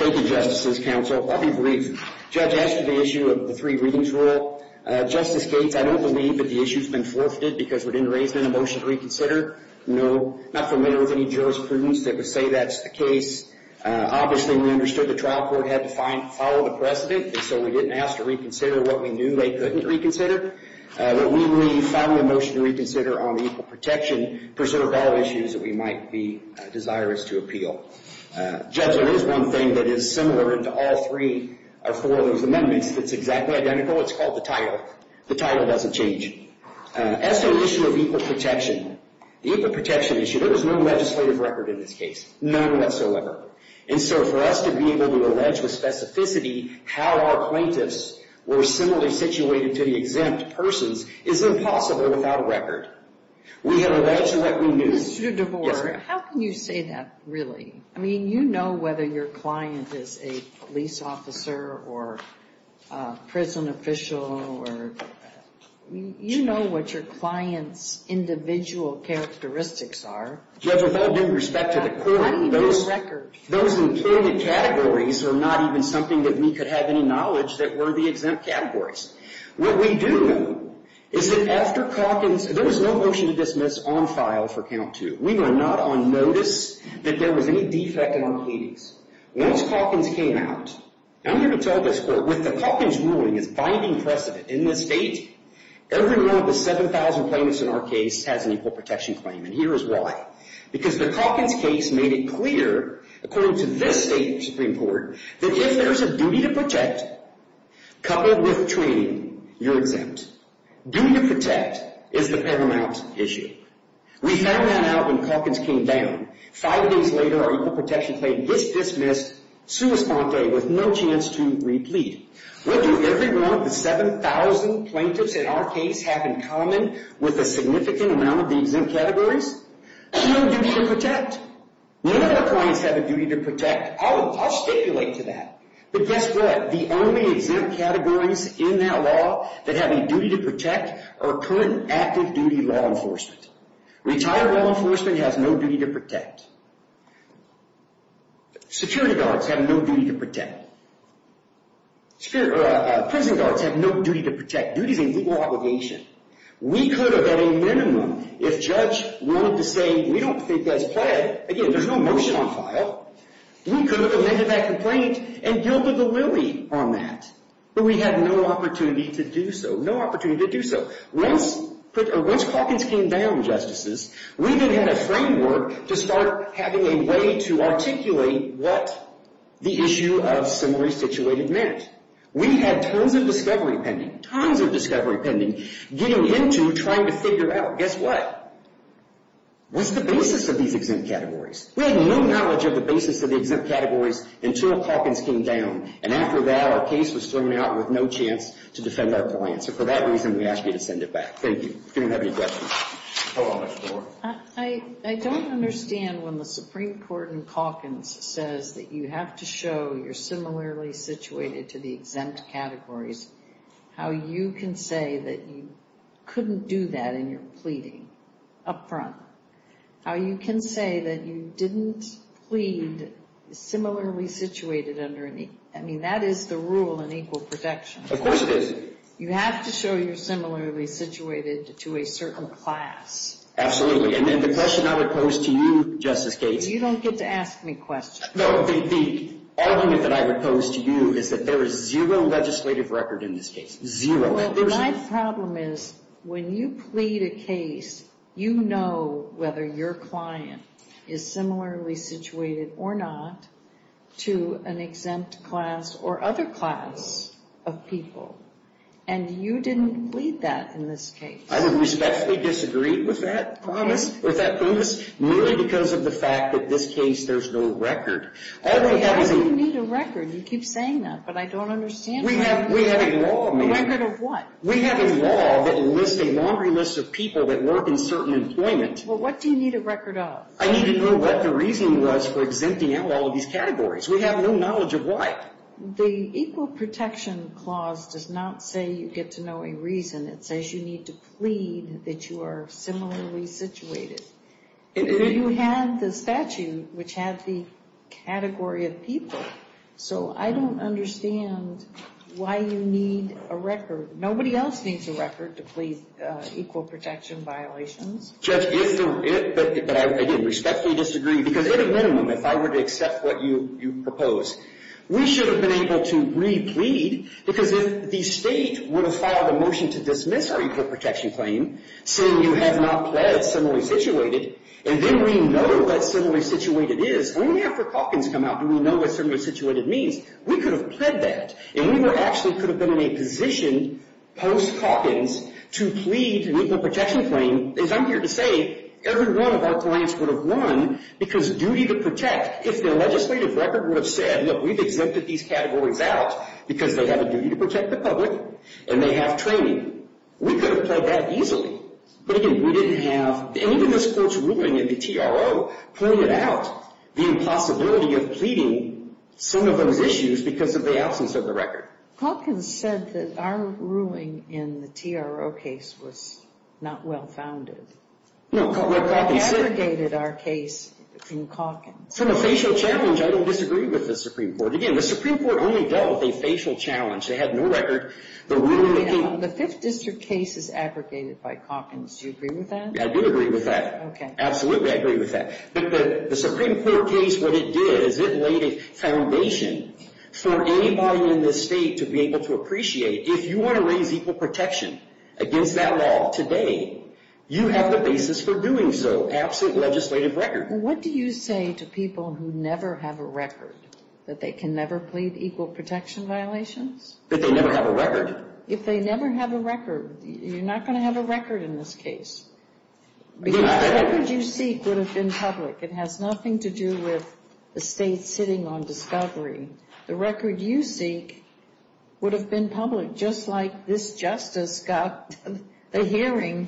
you, Justices, Counsel. I'll be brief. Judge, as to the issue of the three readings rule, Justice Cates, I don't believe that the issue has been forfeited because we didn't raise it in a motion to reconsider. No. Not familiar with any jurisprudence that would say that's the case. Obviously, we understood the trial court had to follow the precedent, and so we didn't ask to reconsider what we knew they couldn't reconsider. But we leave, following the motion to reconsider on the equal protection, preserve all issues that we might be desirous to appeal. Judge, there is one thing that is similar to all three or four of those amendments that's exactly identical. It's called the title. The title doesn't change. As to the issue of equal protection, the equal protection issue, there is no legislative record in this case. None whatsoever. And so for us to be able to allege with specificity how our plaintiffs were similarly situated to the exempt persons is impossible without a record. We have alleged what we knew. Mr. DeVore, how can you say that, really? I mean, you know whether your client is a police officer or a prison official, or you know what your client's individual characteristics are. Judge, with all due respect to the court, those included categories are not even something that we could have any knowledge that were the exempt categories. What we do know is that after Calkins, there was no motion to dismiss on file for count two. We were not on notice that there was any defect in our case. Once Calkins came out, I'm here to tell this court, with the Calkins ruling as binding precedent in this state, every one of the 7,000 plaintiffs in our case has an equal protection claim. And here is why. Because the Calkins case made it clear, according to this state Supreme Court, that if there's a duty to protect, coupled with training, you're exempt. Duty to protect is the paramount issue. We found that out when Calkins came down. Five days later, our equal protection claim gets dismissed, sua sponte, with no chance to replead. What do every one of the 7,000 plaintiffs in our case have in common with a significant amount of the exempt categories? No duty to protect. None of our clients have a duty to protect. I'll stipulate to that. But guess what? The only exempt categories in that law that have a duty to protect are current active duty law enforcement. Retired law enforcement has no duty to protect. Security guards have no duty to protect. Prison guards have no duty to protect. Duty is a legal obligation. We could have, at a minimum, if judge wanted to say, we don't think that's pled, again, there's no motion on file, we could have amended that complaint and gilded the lily on that. But we had no opportunity to do so. No opportunity to do so. Once Calkins came down, justices, we then had a framework to start having a way to articulate what the issue of summary situated meant. We had tons of discovery pending, tons of discovery pending, getting into trying to figure out, guess what? What's the basis of these exempt categories? We had no knowledge of the basis of the exempt categories until Calkins came down. And after that, our case was thrown out with no chance to defend our clients. So for that reason, we ask you to send it back. Thank you. Do you have any questions? I don't understand when the Supreme Court in Calkins says that you have to show you're similarly situated to the exempt categories, how you can say that you couldn't do that in your pleading up front. How you can say that you didn't plead similarly situated under an, I mean, that is the rule in equal protection. Of course it is. You have to show you're similarly situated to a certain class. And then the question I would pose to you, Justice Gates. You don't get to ask me questions. No. The argument that I would pose to you is that there is zero legislative record in this case. Zero. Well, my problem is when you plead a case, you know whether your client is similarly situated or not to an exempt class or other class of people. And you didn't plead that in this case. I would respectfully disagree with that premise, merely because of the fact that this case, there's no record. You need a record. You keep saying that, but I don't understand. We have a law. A record of what? We have a law that enlists a laundry list of people that work in certain employment. Well, what do you need a record of? I need to know what the reasoning was for exempting out all of these categories. We have no knowledge of why. The equal protection clause does not say you get to know a reason. It says you need to plead that you are similarly situated. You have the statute, which has the category of people. So I don't understand why you need a record. Nobody else needs a record to plead equal protection violations. Judge, but I respectfully disagree, because at a minimum, if I were to accept what you propose, we should have been able to re-plead, because if the State would have filed a motion to dismiss our equal protection claim, saying you have not pled similarly situated, and then we know what similarly situated is, only after Calkins come out do we know what similarly situated means. We could have pled that, and we actually could have been in a position post-Calkins to plead an equal protection claim. As I'm here to say, every one of our clients would have won, because duty to protect. If the legislative record would have said, look, we've exempted these categories out, because they have a duty to protect the public, and they have training, we could have pled that easily. But again, we didn't have, and even this Court's ruling in the TRO pointed out the impossibility of pleading some of those issues because of the absence of the record. Calkins said that our ruling in the TRO case was not well-founded. It abrogated our case from Calkins. From a facial challenge, I don't disagree with the Supreme Court. Again, the Supreme Court only dealt with a facial challenge. They had no record. The Fifth District case is abrogated by Calkins. Do you agree with that? I do agree with that. Okay. Absolutely, I agree with that. But the Supreme Court case, what it did is it laid a foundation for anybody in this State to be able to appreciate, if you want to raise equal protection against that law today, you have the basis for doing so, absent legislative record. What do you say to people who never have a record, that they can never plead equal protection violations? That they never have a record. If they never have a record, you're not going to have a record in this case. Because the record you seek would have been public. It has nothing to do with the State sitting on discovery. The record you seek would have been public, just like this justice got the hearing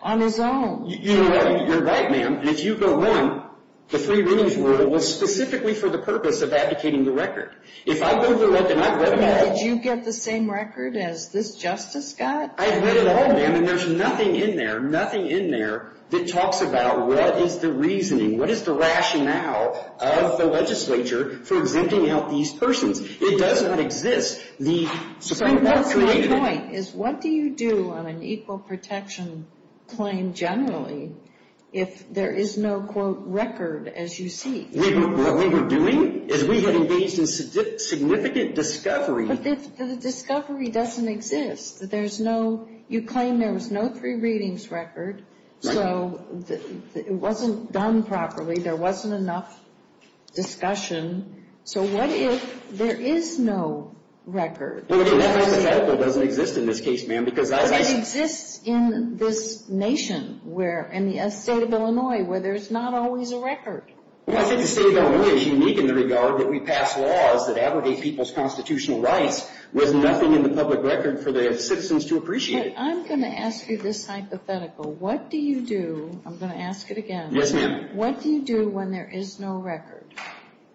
on his own. You're right, ma'am. And if you go on, the three readings rule was specifically for the purpose of advocating the record. If I go to the record and I've read it all. Did you get the same record as this justice got? I've read it all, ma'am, and there's nothing in there, nothing in there, that talks about what is the reasoning, what is the rationale of the legislature for exempting out these persons? It does not exist. The Supreme Court created it. What's my point is, what do you do on an equal protection claim generally if there is no, quote, record as you seek? What we were doing is we had engaged in significant discovery. But the discovery doesn't exist. There's no, you claim there was no three readings record. So it wasn't done properly. There wasn't enough discussion. So what if there is no record? That hypothetical doesn't exist in this case, ma'am. But it exists in this nation, in the state of Illinois, where there's not always a record. I think the state of Illinois is unique in the regard that we pass laws that abrogate people's constitutional rights with nothing in the public record for the citizens to appreciate. But I'm going to ask you this hypothetical. What do you do, I'm going to ask it again. Yes, ma'am. What do you do when there is no record?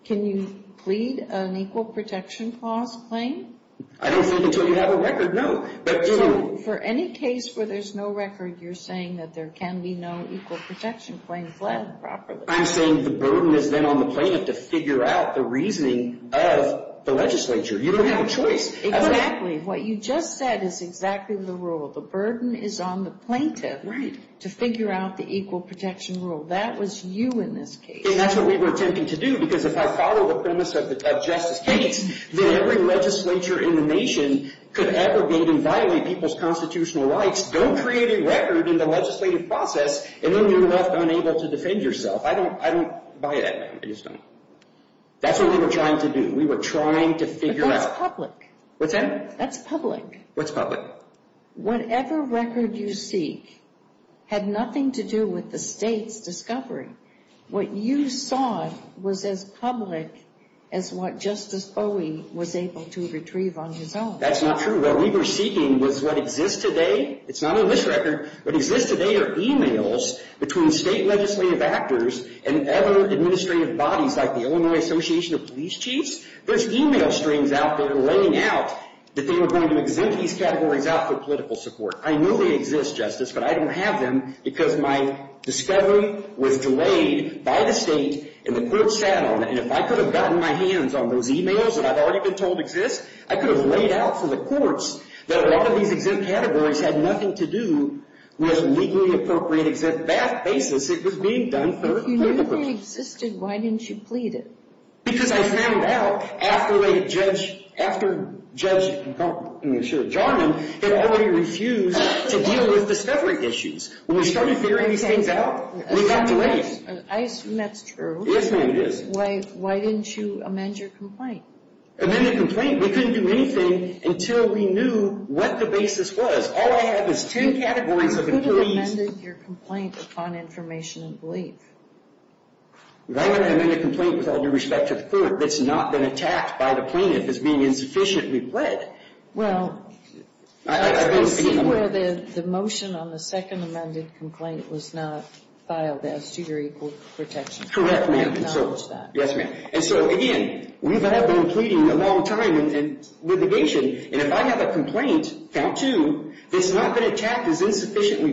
Can you plead an equal protection clause claim? I don't think until you have a record, no. So for any case where there's no record, you're saying that there can be no equal protection claim fled properly. I'm saying the burden is then on the plaintiff to figure out the reasoning of the legislature. You don't have a choice. Exactly. What you just said is exactly the rule. The burden is on the plaintiff to figure out the equal protection rule. That was you in this case. And that's what we were attempting to do, because if I follow the premise of Justice Gates, that every legislature in the nation could abrogate and violate people's constitutional rights, don't create a record in the legislative process, and then you're left unable to defend yourself. I don't buy that, ma'am. I just don't. That's what we were trying to do. We were trying to figure out. That's public. What's that? That's public. What's public? Whatever record you seek had nothing to do with the state's discovery. What you sought was as public as what Justice Owey was able to retrieve on his own. That's not true. What we were seeking was what exists today. It's not on this record. What exists today are e-mails between state legislative actors and other administrative bodies, like the Illinois Association of Police Chiefs. There's e-mail strings out there laying out that they were going to exempt these categories out for political support. I know they exist, Justice, but I don't have them because my discovery was delayed by the state, and the courts sat on it. And if I could have gotten my hands on those e-mails that I've already been told exist, I could have laid out for the courts that a lot of these exempt categories had nothing to do with a legally appropriate exempt basis. It was being done for political purposes. If you knew they existed, why didn't you plead it? Because I found out after Judge Jarman had already refused to deal with discovery issues. When we started figuring these things out, we got delayed. I assume that's true. Yes, ma'am, it is. Why didn't you amend your complaint? Amend the complaint? We couldn't do anything until we knew what the basis was. All I have is ten categories of employees. You could have amended your complaint upon information and belief. If I'm going to amend a complaint with all due respect to the court that's not been attacked by the plaintiff as being insufficiently pled, I don't think I can amend it. Well, I see where the motion on the second amended complaint was not filed as to your equal protection. Correct, ma'am. I acknowledge that. Yes, ma'am. And so, again, we have been pleading a long time in litigation. And if I have a complaint, count two, that's not been attacked as insufficiently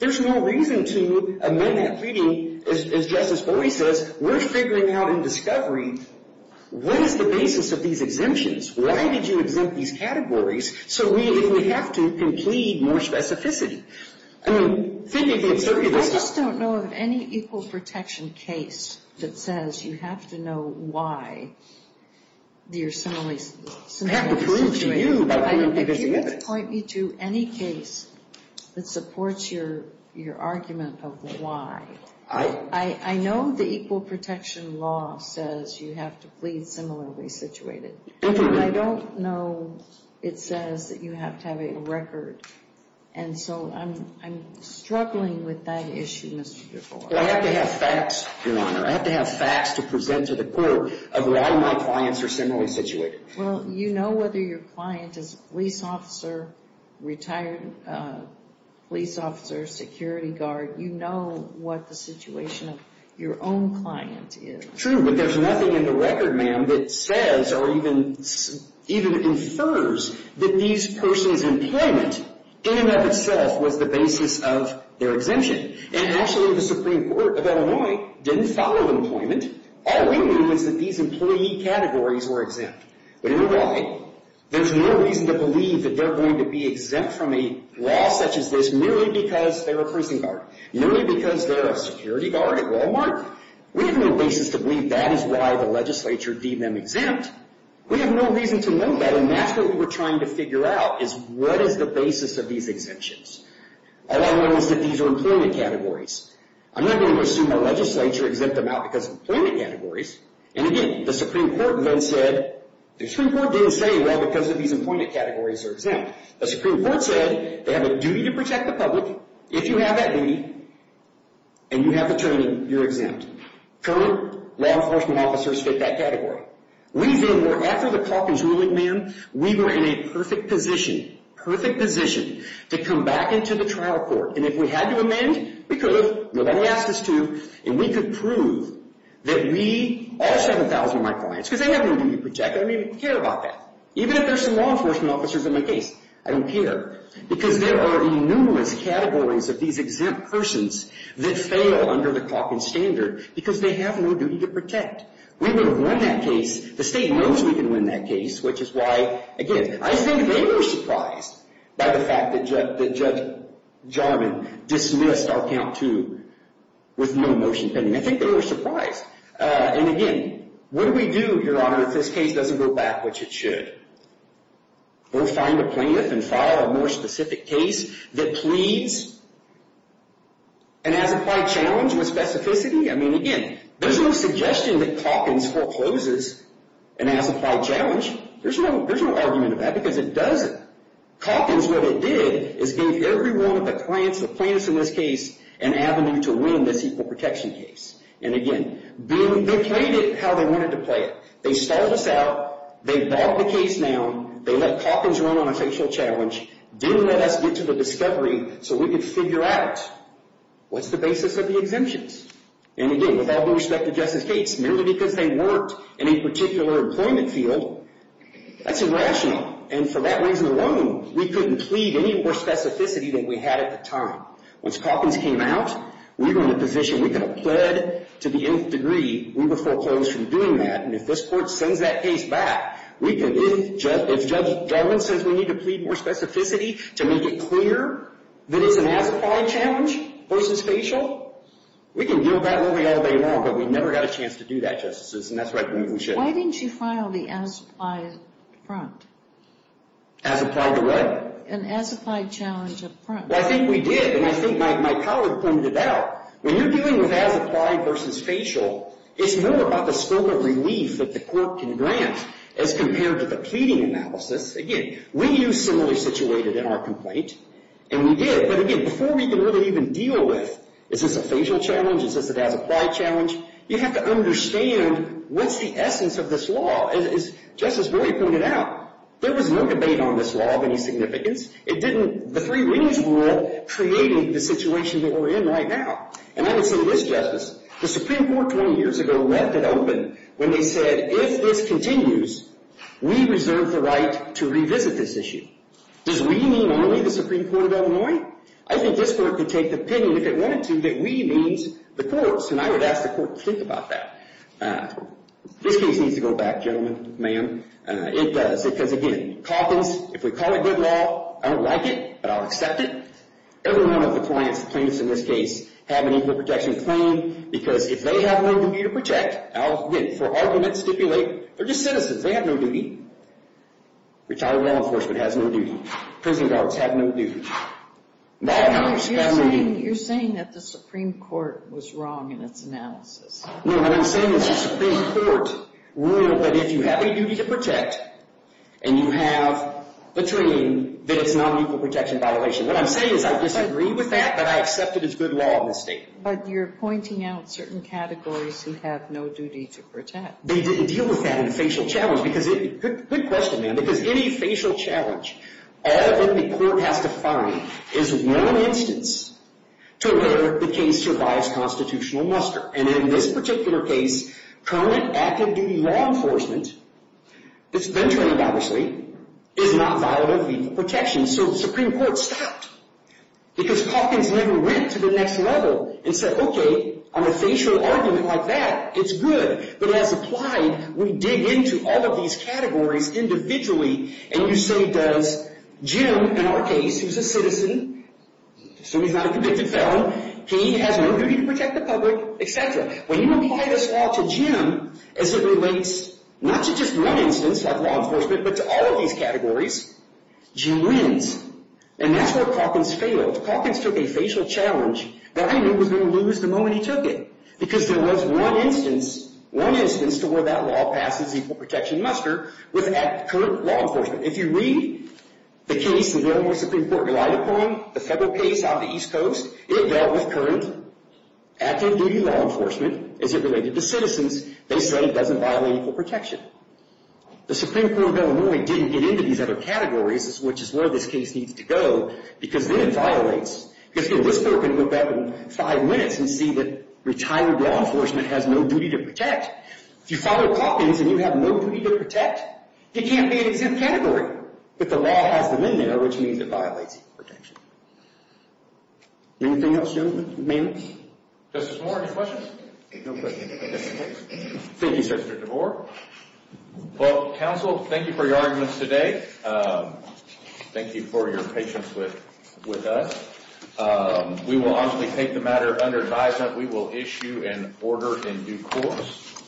there's no reason to amend that pleading. As Justice Bowie says, we're figuring out in discovery, what is the basis of these exemptions? Why did you exempt these categories? So we have to plead more specificity. I mean, think of the absurdity of this. I just don't know of any equal protection case that says you have to know why you're in a similar situation. I have to prove to you. Point me to any case that supports your argument of why. I know the equal protection law says you have to plead similarly situated. I don't know it says that you have to have a record. And so I'm struggling with that issue, Mr. DeFore. I have to have facts, Your Honor. I have to have facts to present to the court of why my clients are similarly situated. Well, you know whether your client is a police officer, retired police officer, security guard. You know what the situation of your own client is. True, but there's nothing in the record, ma'am, that says or even infers that these persons' employment in and of itself was the basis of their exemption. And actually, the Supreme Court of Illinois didn't follow employment. All we knew was that these employee categories were exempt. But you know why? There's no reason to believe that they're going to be exempt from a law such as this merely because they're a prison guard, merely because they're a security guard at Walmart. We have no basis to believe that is why the legislature deemed them exempt. We have no reason to know that. And that's what we were trying to figure out is what is the basis of these exemptions. All I know is that these are employment categories. I'm not going to assume the legislature exempted them out because of employment categories. And again, the Supreme Court then said, the Supreme Court didn't say, well, because of these employment categories they're exempt. The Supreme Court said they have a duty to protect the public. If you have that duty and you have attorney, you're exempt. Current law enforcement officers fit that category. We then were, after the Calkins ruling, ma'am, we were in a perfect position, perfect position to come back into the trial court. And if we had to amend, we could have. Nobody asked us to. And we could prove that we, all 7,000 of my clients, because they have no duty to protect, they don't even care about that. Even if there's some law enforcement officers in my case, I don't care. Because there are numerous categories of these exempt persons that fail under the Calkins standard because they have no duty to protect. We would have won that case. The state knows we can win that case, which is why, again, I think they were surprised by the fact that Judge Jarman dismissed our Count 2 with no motion pending. I think they were surprised. And, again, what do we do, Your Honor, if this case doesn't go back, which it should? We'll find a plaintiff and file a more specific case that pleads and has applied challenge with specificity. I mean, again, there's no suggestion that Calkins forecloses and has applied challenge. There's no argument of that because it doesn't. Calkins, what it did is gave every one of the clients, the plaintiffs in this case, an avenue to win this equal protection case. And, again, they played it how they wanted to play it. They stalled us out. They bought the case now. They let Calkins run on a facial challenge, didn't let us get to the discovery so we could figure out what's the basis of the exemptions. And, again, with all due respect to Justice Gates, merely because they worked in a particular employment field, that's irrational. And for that reason alone, we couldn't plead any more specificity than we had at the time. Once Calkins came out, we were in a position, we could have pled to the nth degree. We would foreclose from doing that. And if this Court sends that case back, we could, if Judge Jarman says we need to plead more specificity to make it clear that it's an as-applied challenge versus facial, we can deal with that really all day long. But we never got a chance to do that, Justices, and that's why I think we should. Why didn't you file the as-applied front? As-applied to what? An as-applied challenge up front. Well, I think we did. And I think my colleague pointed it out. When you're dealing with as-applied versus facial, it's more about the scope of relief that the Court can grant as compared to the pleading analysis. Again, we knew similarly situated in our complaint, and we did. But again, before we can really even deal with, is this a facial challenge? Is this an as-applied challenge? You have to understand what's the essence of this law. As Justice Brewer pointed out, there was no debate on this law of any significance. It didn't – the three rings rule created the situation that we're in right now. And I would say this, Justice. The Supreme Court 20 years ago left it open when they said, if this continues, we reserve the right to revisit this issue. Does we mean only the Supreme Court of Illinois? I think this Court could take the opinion, if it wanted to, that we means the courts. And I would ask the Court to think about that. This case needs to go back, gentlemen, ma'am. It does. It does again. Coffins, if we call it good law, I don't like it, but I'll accept it. Every one of the clients, plaintiffs in this case, have an equal protection claim because if they have no duty to protect, I'll – again, for argument, stipulate, they're just citizens. They have no duty. Retired law enforcement has no duty. Prison guards have no duty. Bad lawyers have no duty. You're saying that the Supreme Court was wrong in its analysis. No, what I'm saying is the Supreme Court ruled that if you have a duty to protect and you have a claim that it's not an equal protection violation. What I'm saying is I disagree with that, but I accept it as good law in this state. But you're pointing out certain categories who have no duty to protect. They didn't deal with that in a facial challenge. Good question, ma'am, because any facial challenge, all of them the court has to find is one instance to where the case survives constitutional muster. And in this particular case, current active duty law enforcement, it's been trained, obviously, is not violent of equal protection. So the Supreme Court stopped because Coffins never went to the next level and said, okay, on a facial argument like that, it's good. But as applied, we dig into all of these categories individually. And you say, does Jim, in our case, who's a citizen, assuming he's not a convicted felon, he has no duty to protect the public, et cetera. When you apply this law to Jim as it relates not to just one instance, like law enforcement, but to all of these categories, Jim wins. And that's where Coffins failed. Coffins took a facial challenge that I knew was going to lose the moment he took it. Because there was one instance, one instance to where that law passes equal protection muster with current law enforcement. If you read the case the Illinois Supreme Court relied upon, the federal case out of the East Coast, it dealt with current active duty law enforcement as it related to citizens. They said it doesn't violate equal protection. The Supreme Court of Illinois didn't get into these other categories, which is where this case needs to go, because then it violates. Because, you know, this court can go back in five minutes and see that retired law enforcement has no duty to protect. If you follow Coffins and you have no duty to protect, it can't be an exempt category. But the law has them in there, which means it violates equal protection. Anything else, gentlemen? Ma'am? Justice Moore, any questions? No questions. Thank you, Senator DeVore. Well, counsel, thank you for your arguments today. Thank you for your patience with us. We will honestly take the matter under advisement. We will issue an order in due course.